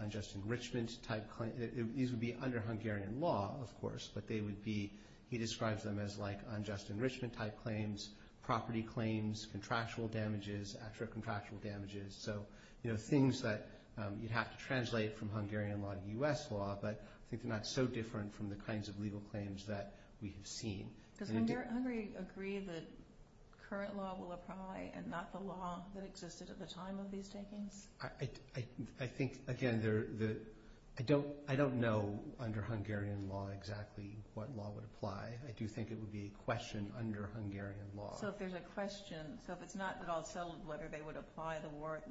unjust enrichment-type claims. These would be under Hungarian law, of course, but they would be—he describes them as like unjust enrichment-type claims, property claims, contractual damages, extra contractual damages. So, you know, things that you'd have to translate from Hungarian law to U.S. law, but I think they're not so different from the kinds of legal claims that we have seen. Does Hungary agree that current law will apply and not the law that existed at the time of these takings? I think, again, I don't know under Hungarian law exactly what law would apply. I do think it would be a question under Hungarian law. So if there's a question—so if it's not at all settled whether they would apply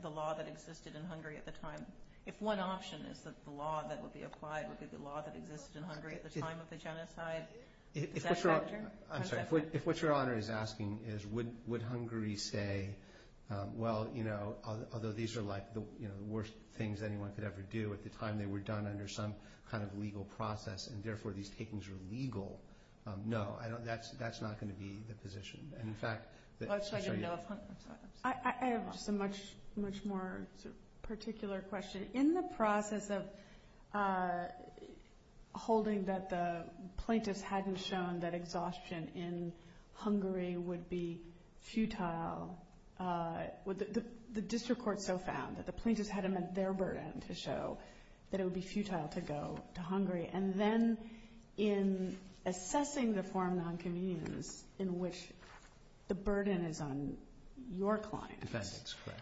the law that existed in Hungary at the time, if one option is that the law that would be applied would be the law that existed in Hungary at the time of the genocide, is that better? I'm sorry. If what Your Honor is asking is would Hungary say, well, you know, although these are like the worst things anyone could ever do at the time they were done under some kind of legal process and therefore these takings are legal, no, that's not going to be the position. And, in fact— I'm sorry. I have just a much more particular question. In the process of holding that the plaintiffs hadn't shown that exhaustion in Hungary would be futile, the district court so found that the plaintiffs hadn't met their burden to show that it would be futile to go to Hungary. And then in assessing the form of nonconvenience in which the burden is on your clients— Defendants, correct.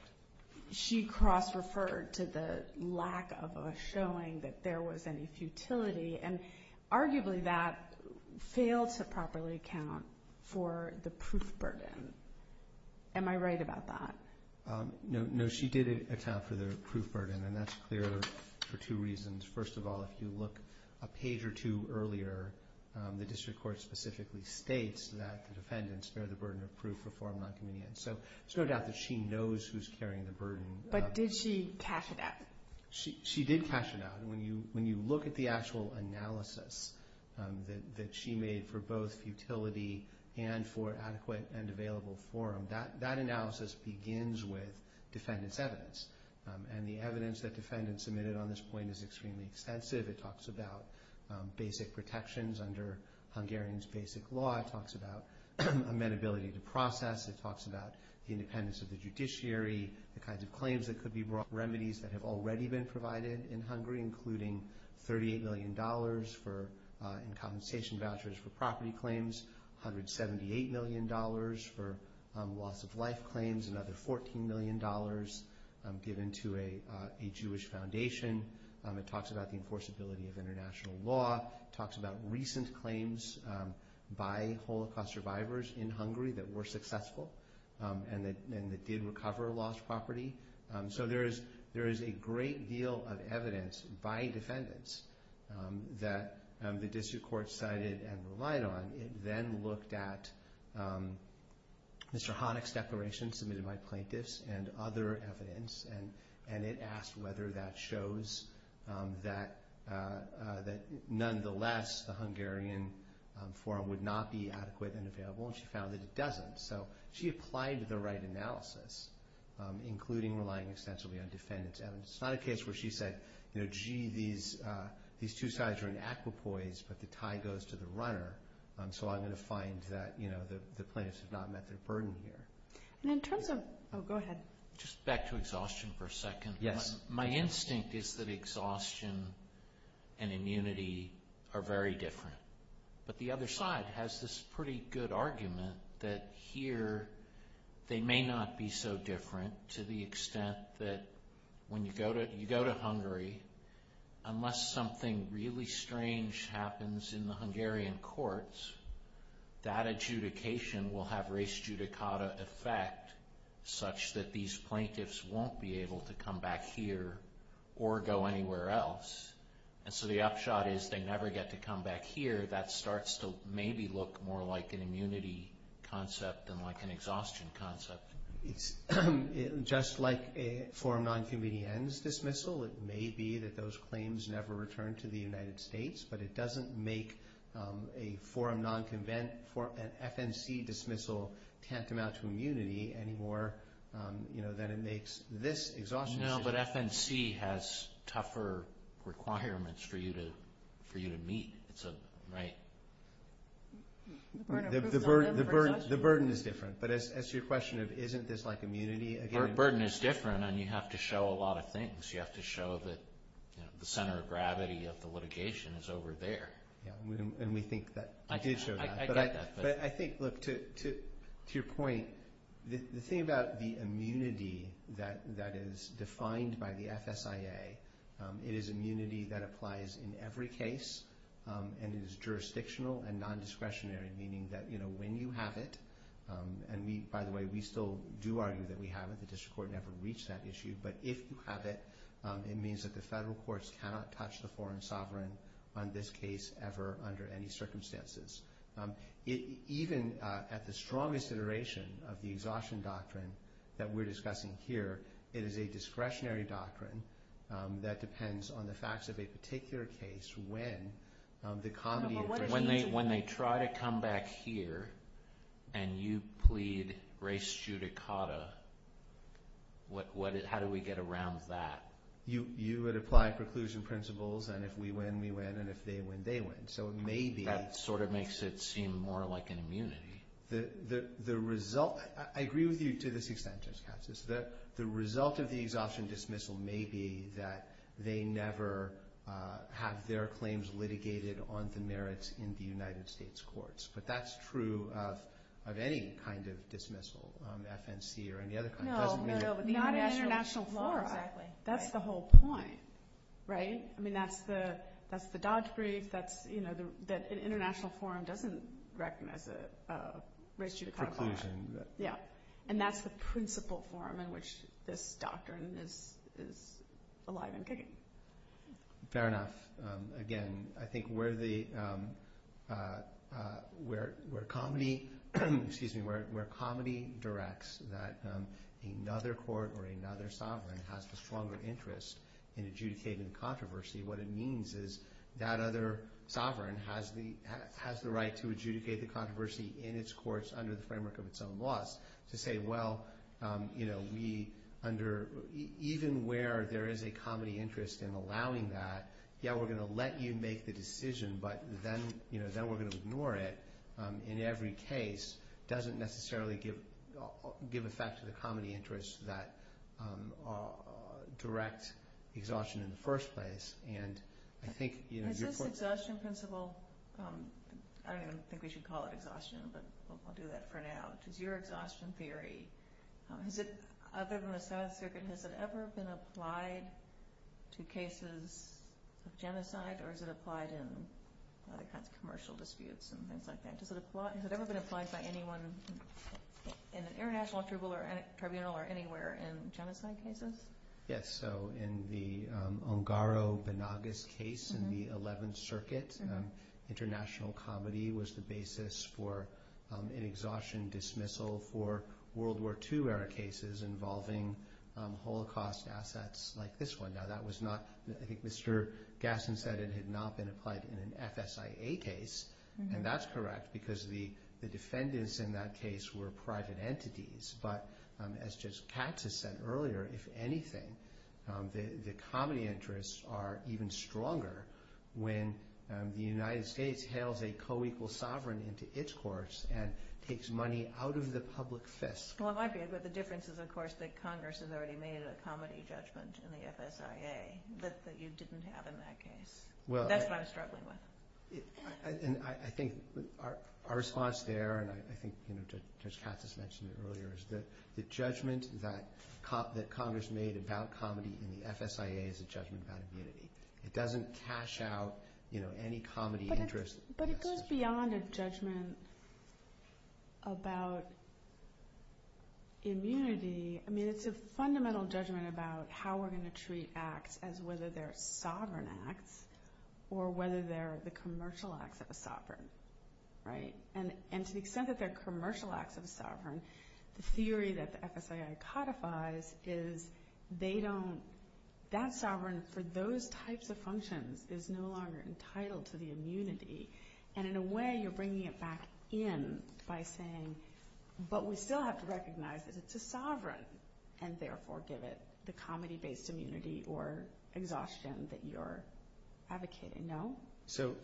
—she cross-referred to the lack of a showing that there was any futility and arguably that failed to properly account for the proof burden. Am I right about that? No, she did account for the proof burden, and that's clear for two reasons. First of all, if you look a page or two earlier, the district court specifically states that the defendants bear the burden of proof for form nonconvenience. So there's no doubt that she knows who's carrying the burden. But did she cash it out? She did cash it out. When you look at the actual analysis that she made for both futility and for adequate and available forum, that analysis begins with defendant's evidence. And the evidence that defendants submitted on this point is extremely extensive. It talks about basic protections under Hungarian's basic law. It talks about amenability to process. It talks about the independence of the judiciary, the kinds of claims that could be brought, remedies that have already been provided in Hungary, including $38 million in compensation vouchers for property claims, $178 million for loss-of-life claims, another $14 million given to a Jewish foundation. It talks about the enforceability of international law. It talks about recent claims by Holocaust survivors in Hungary that were successful and that did recover lost property. So there is a great deal of evidence by defendants that the district court cited and relied on. It then looked at Mr. Hanek's declaration submitted by plaintiffs and other evidence, and it asked whether that shows that nonetheless the Hungarian forum would not be adequate and available, and she found that it doesn't. So she applied the right analysis, including relying extensively on defendants' evidence. It's not a case where she said, you know, gee, these two sides are in equipoise, but the tie goes to the runner, so I'm going to find that the plaintiffs have not met their burden here. And in terms of – oh, go ahead. Just back to exhaustion for a second. Yes. My instinct is that exhaustion and immunity are very different, but the other side has this pretty good argument that here they may not be so different to the extent that when you go to Hungary, unless something really strange happens in the Hungarian courts, that adjudication will have race judicata effect such that these plaintiffs won't be able to come back here or go anywhere else. And so the upshot is they never get to come back here. That starts to maybe look more like an immunity concept than like an exhaustion concept. It's just like a forum non-convenience dismissal. It may be that those claims never return to the United States, but it doesn't make a forum non-convent – an FNC dismissal tantamount to immunity any more than it makes this exhaustion. No, but FNC has tougher requirements for you to meet, right? The burden is different. But as to your question of isn't this like immunity? Our burden is different, and you have to show a lot of things. You have to show that the center of gravity of the litigation is over there. And we think that you did show that. I get that. But I think, look, to your point, the thing about the immunity that is defined by the FSIA, it is immunity that applies in every case and is jurisdictional and non-discretionary, meaning that when you have it – and, by the way, we still do argue that we have it. The district court never reached that issue. But if you have it, it means that the federal courts cannot touch the foreign sovereign on this case ever under any circumstances. Even at the strongest iteration of the exhaustion doctrine that we're discussing here, it is a discretionary doctrine that depends on the facts of a particular case when the comedy – if we check here and you plead race judicata, how do we get around that? You would apply preclusion principles, and if we win, we win, and if they win, they win. So it may be – That sort of makes it seem more like an immunity. The result – I agree with you to this extent, Justice Katz. The result of the exhaustion dismissal may be that they never have their claims litigated on the merits in the United States courts. But that's true of any kind of dismissal, FNC or any other kind. No, no, no. Not an international forum. Exactly. That's the whole point, right? I mean, that's the Dodd brief. That's – an international forum doesn't recognize race judicata. Preclusion. Yeah, and that's the principle forum in which this doctrine is alive and kicking. Fair enough. Again, I think where the – where comedy – excuse me – where comedy directs that another court or another sovereign has a stronger interest in adjudicating the controversy, what it means is that other sovereign has the right to adjudicate the controversy in its courts under the framework of its own laws. To say, well, we under – even where there is a comedy interest in allowing that, yeah, we're going to let you make the decision, but then we're going to ignore it in every case doesn't necessarily give effect to the comedy interest that direct exhaustion in the first place. And I think – Is this exhaustion principle – I don't even think we should call it exhaustion, but I'll do that for now. Does your exhaustion theory – has it – other than the South Circuit, has it ever been applied to cases of genocide or is it applied in other kinds of commercial disputes and things like that? Does it apply – has it ever been applied by anyone in an international tribunal or anywhere in genocide cases? Yes, so in the Ongaro-Benagas case in the 11th Circuit, international comedy was the basis for an exhaustion dismissal for World War II-era cases involving Holocaust assets like this one. Now, that was not – I think Mr. Gasson said it had not been applied in an FSIA case, and that's correct because the defendants in that case were private entities. But as Judge Katz has said earlier, if anything, the comedy interests are even stronger when the United States hails a co-equal sovereign into its courts and takes money out of the public fist. Well, it might be, but the difference is, of course, that Congress has already made a comedy judgment in the FSIA that you didn't have in that case. That's what I'm struggling with. I think our response there, and I think Judge Katz has mentioned it earlier, is that the judgment that Congress made about comedy in the FSIA is a judgment about immunity. It doesn't cash out any comedy interest. But it goes beyond a judgment about immunity. I mean, it's a fundamental judgment about how we're going to treat acts as whether they're sovereign acts or whether they're the commercial acts of a sovereign. And to the extent that they're commercial acts of a sovereign, the theory that the FSIA codifies is that sovereign for those types of functions is no longer entitled to the immunity. And in a way, you're bringing it back in by saying, but we still have to recognize that it's a sovereign and therefore give it the comedy-based immunity or exhaustion that you're advocating. No? So,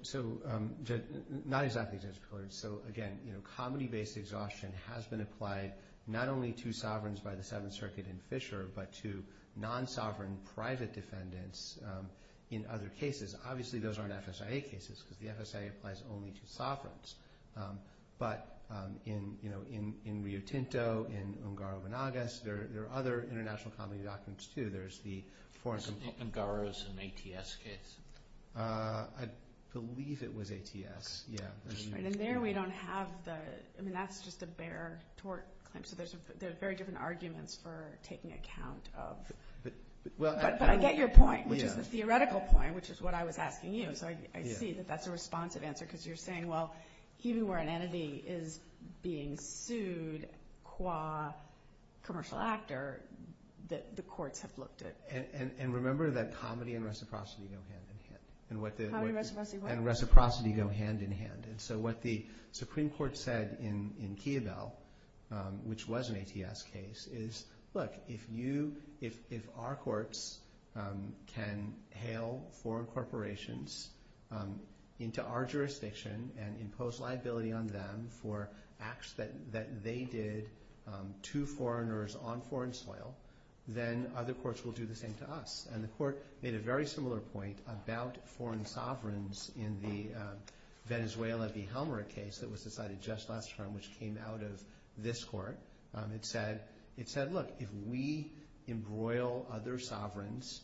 not exactly, Judge Pillard. So, again, comedy-based exhaustion has been applied not only to sovereigns by the Seventh Circuit in Fisher, but to non-sovereign private defendants in other cases. Obviously, those aren't FSIA cases, because the FSIA applies only to sovereigns. But in Rio Tinto, in Ungaro-Vanagas, there are other international comedy documents, too. There's the foreign- Ungaro's and ATS case. I believe it was ATS, yeah. And there we don't have the – I mean, that's just a bare tort claim. So, there's very different arguments for taking account of – but I get your point, which is the theoretical point, which is what I was asking you. So, I see that that's a responsive answer, because you're saying, well, even where an entity is being sued qua commercial actor, the courts have looked at it. And remember that comedy and reciprocity go hand-in-hand. Comedy, reciprocity, what? And reciprocity go hand-in-hand. And so, what the Supreme Court said in Kiabel, which was an ATS case, is, look, if you – if our courts can hail foreign corporations into our jurisdiction and impose liability on them for acts that they did to foreigners on foreign soil, then other courts will do the same to us. And the court made a very similar point about foreign sovereigns in the Venezuela v. Helmer case that was decided just last term, which came out of this court. It said, look, if we embroil other sovereigns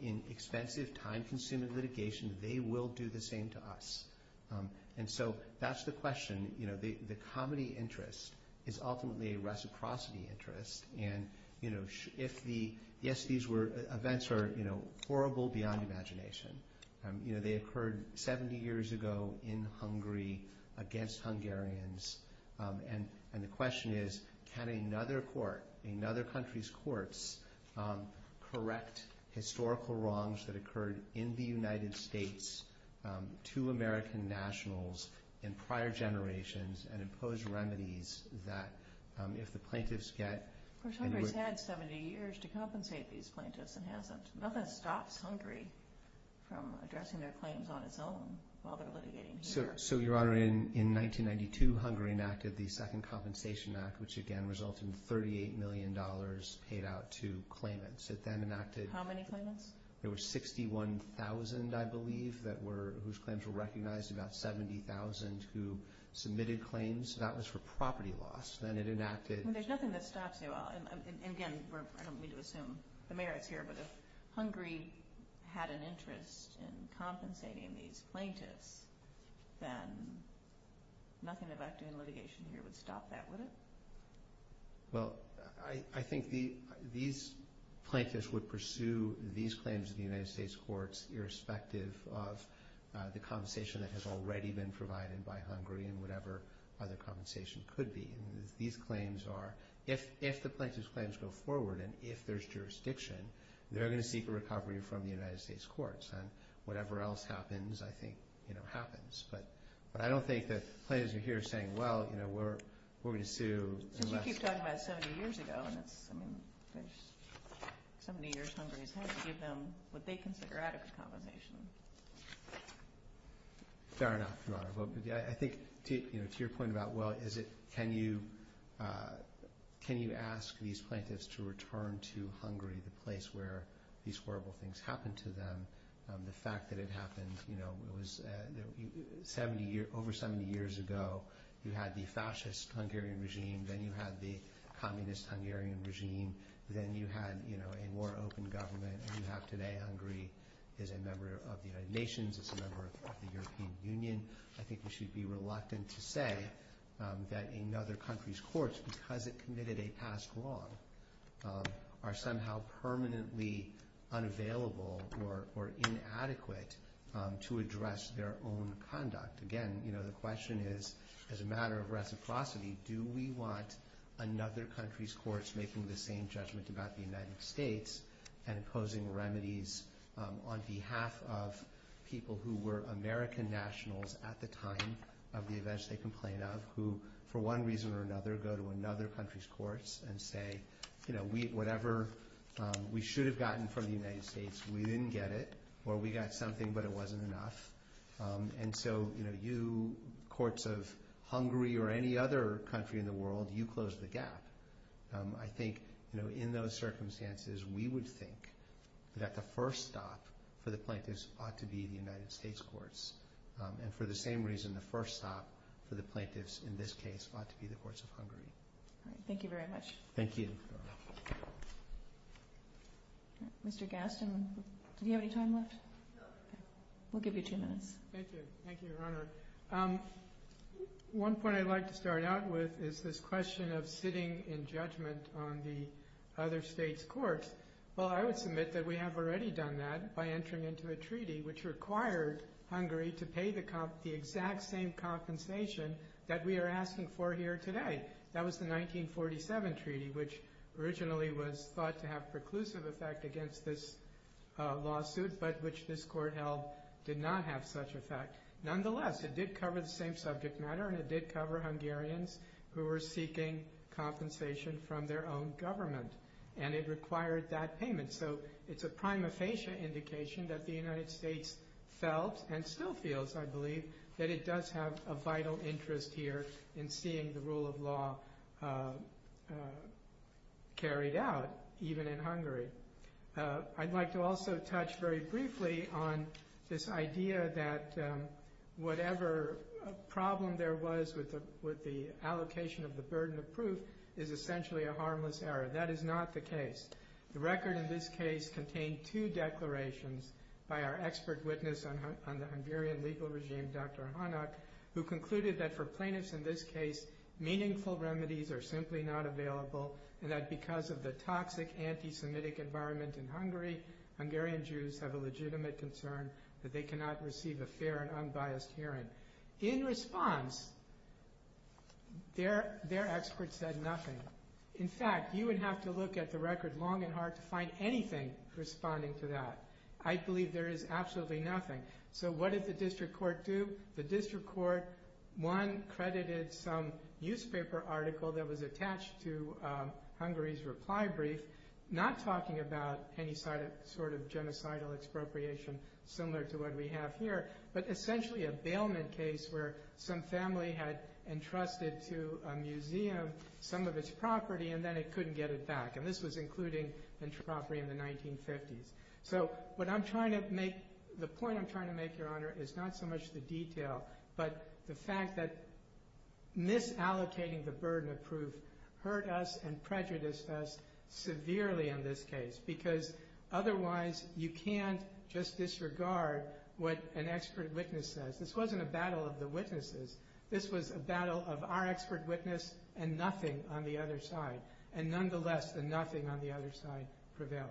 in expensive, time-consuming litigation, they will do the same to us. And so, that's the question. You know, the comedy interest is ultimately a reciprocity interest. And, you know, if the – yes, these were – events are, you know, horrible beyond imagination. You know, they occurred 70 years ago in Hungary against Hungarians. And the question is, can another court, another country's courts, correct historical wrongs that occurred in the United States to American nationals in prior generations and impose remedies that if the plaintiffs get – Of course, Hungary's had 70 years to compensate these plaintiffs and hasn't. Nothing stops Hungary from addressing their claims on its own while they're litigating here. So, Your Honor, in 1992, Hungary enacted the Second Compensation Act, which, again, resulted in $38 million paid out to claimants. It then enacted – How many claimants? There were 61,000, I believe, that were – whose claims were recognized, about 70,000 who submitted claims. That was for property loss. Then it enacted – Nothing about doing litigation here would stop that, would it? Well, I think these plaintiffs would pursue these claims in the United States courts irrespective of the compensation that has already been provided by Hungary and whatever other compensation could be. These claims are – if the plaintiffs' claims go forward and if there's jurisdiction, they're going to seek a recovery from the United States courts. And whatever else happens, I think, you know, happens. But I don't think that the plaintiffs are here saying, well, you know, we're going to sue unless – Because you keep talking about 70 years ago, and that's – I mean, there's 70 years. Hungary has had to give them what they consider adequate compensation. Fair enough, Your Honor. I think, you know, to your point about, well, is it – can you ask these plaintiffs to return to Hungary, the place where these horrible things happened to them? The fact that it happened, you know, it was – 70 – over 70 years ago, you had the fascist Hungarian regime. Then you had the communist Hungarian regime. Then you had, you know, a more open government. Hungary is a member of the United Nations. It's a member of the European Union. I think we should be reluctant to say that another country's courts, because it committed a past wrong, are somehow permanently unavailable or inadequate to address their own conduct. Again, you know, the question is, as a matter of reciprocity, do we want another country's courts making the same judgment about the United States and imposing remedies on behalf of people who were American nationals at the time of the events they complain of, who, for one reason or another, go to another country's courts and say, you know, whatever we should have gotten from the United States, we didn't get it, or we got something, but it wasn't enough. And so, you know, you courts of Hungary or any other country in the world, you close the gap. I think, you know, in those circumstances, we would think that the first stop for the plaintiffs ought to be the United States courts. And for the same reason, the first stop for the plaintiffs in this case ought to be the courts of Hungary. Thank you very much. Thank you. Mr. Gaston, do you have any time left? No. We'll give you two minutes. Thank you. Thank you, Your Honor. One point I'd like to start out with is this question of sitting in judgment on the other states' courts. Well, I would submit that we have already done that by entering into a treaty which required Hungary to pay the exact same compensation that we are asking for here today. That was the 1947 treaty, which originally was thought to have preclusive effect against this lawsuit, but which this court held did not have such effect. Nonetheless, it did cover the same subject matter, and it did cover Hungarians who were seeking compensation from their own government, and it required that payment. So it's a prima facie indication that the United States felt and still feels, I believe, that it does have a vital interest here in seeing the rule of law carried out, even in Hungary. I'd like to also touch very briefly on this idea that whatever problem there was with the allocation of the burden of proof is essentially a harmless error. That is not the case. The record in this case contained two declarations by our expert witness on the Hungarian legal regime, Dr. Hanak, who concluded that for plaintiffs in this case, meaningful remedies are simply not available, and that because of the toxic anti-Semitic environment in Hungary, Hungarian Jews have a legitimate concern that they cannot receive a fair and unbiased hearing. In response, their expert said nothing. In fact, you would have to look at the record long and hard to find anything responding to that. I believe there is absolutely nothing. So what did the district court do? The district court, one, credited some newspaper article that was attached to Hungary's reply brief, not talking about any sort of genocidal expropriation similar to what we have here, but essentially a bailment case where some family had entrusted to a museum some of its property, and then it couldn't get it back, and this was including the property in the 1950s. So what I'm trying to make, the point I'm trying to make, Your Honor, is not so much the detail, but the fact that misallocating the burden of proof hurt us and prejudiced us severely in this case because otherwise you can't just disregard what an expert witness says. This wasn't a battle of the witnesses. This was a battle of our expert witness and nothing on the other side, and nonetheless the nothing on the other side prevailed.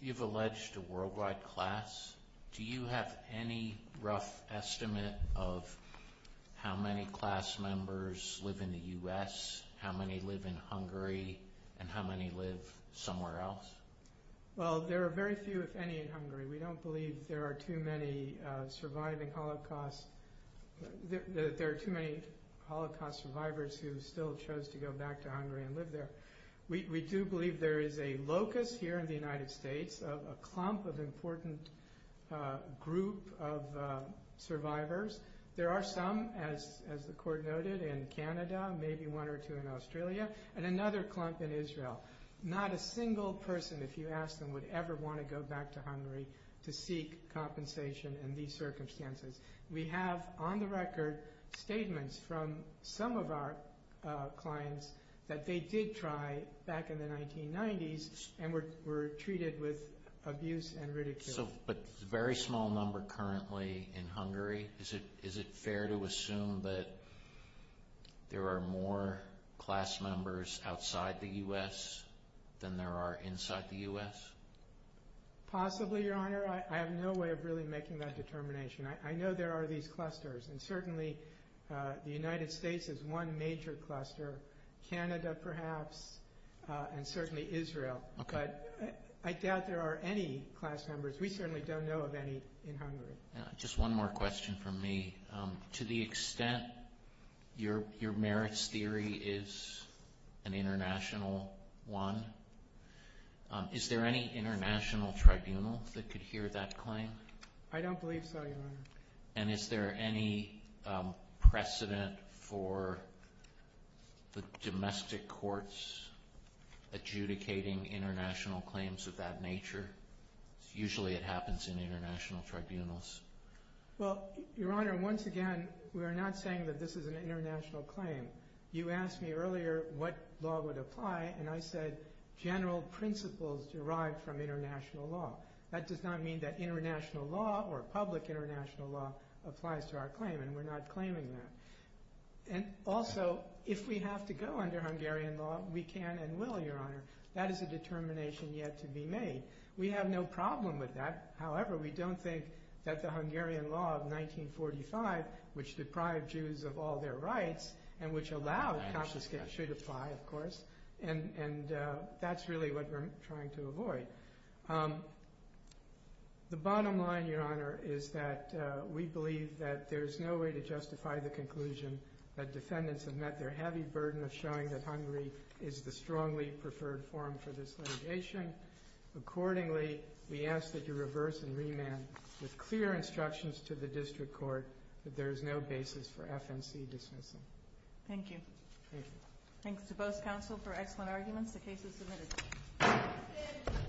You've alleged a worldwide class. Do you have any rough estimate of how many class members live in the U.S., how many live in Hungary, and how many live somewhere else? Well, there are very few, if any, in Hungary. We don't believe there are too many surviving Holocaust survivors who still chose to go back to Hungary and live there. We do believe there is a locus here in the United States of a clump of important group of survivors. There are some, as the Court noted, in Canada, maybe one or two in Australia, and another clump in Israel. Not a single person, if you ask them, would ever want to go back to Hungary to seek compensation in these circumstances. We have, on the record, statements from some of our clients that they did try back in the 1990s and were treated with abuse and ridicule. But a very small number currently in Hungary. Is it fair to assume that there are more class members outside the U.S. than there are inside the U.S.? Possibly, Your Honor. I have no way of really making that determination. I know there are these clusters, and certainly the United States is one major cluster, Canada perhaps, and certainly Israel. But I doubt there are any class members. We certainly don't know of any in Hungary. Just one more question from me. To the extent your merits theory is an international one, is there any international tribunal that could hear that claim? I don't believe so, Your Honor. And is there any precedent for the domestic courts adjudicating international claims of that nature? Usually it happens in international tribunals. Well, Your Honor, once again, we are not saying that this is an international claim. You asked me earlier what law would apply, and I said general principles derived from international law. That does not mean that international law or public international law applies to our claim, and we're not claiming that. And also, if we have to go under Hungarian law, we can and will, Your Honor. That is a determination yet to be made. We have no problem with that. However, we don't think that the Hungarian law of 1945, which deprived Jews of all their rights and which allowed confiscation, should apply, of course. And that's really what we're trying to avoid. The bottom line, Your Honor, is that we believe that there's no way to justify the conclusion that defendants have met their heavy burden of showing that Hungary is the strongly preferred forum for this litigation. Accordingly, we ask that you reverse and remand with clear instructions to the district court that there is no basis for FNC dismissal. Thank you. Thanks to both counsel for excellent arguments. The case is submitted.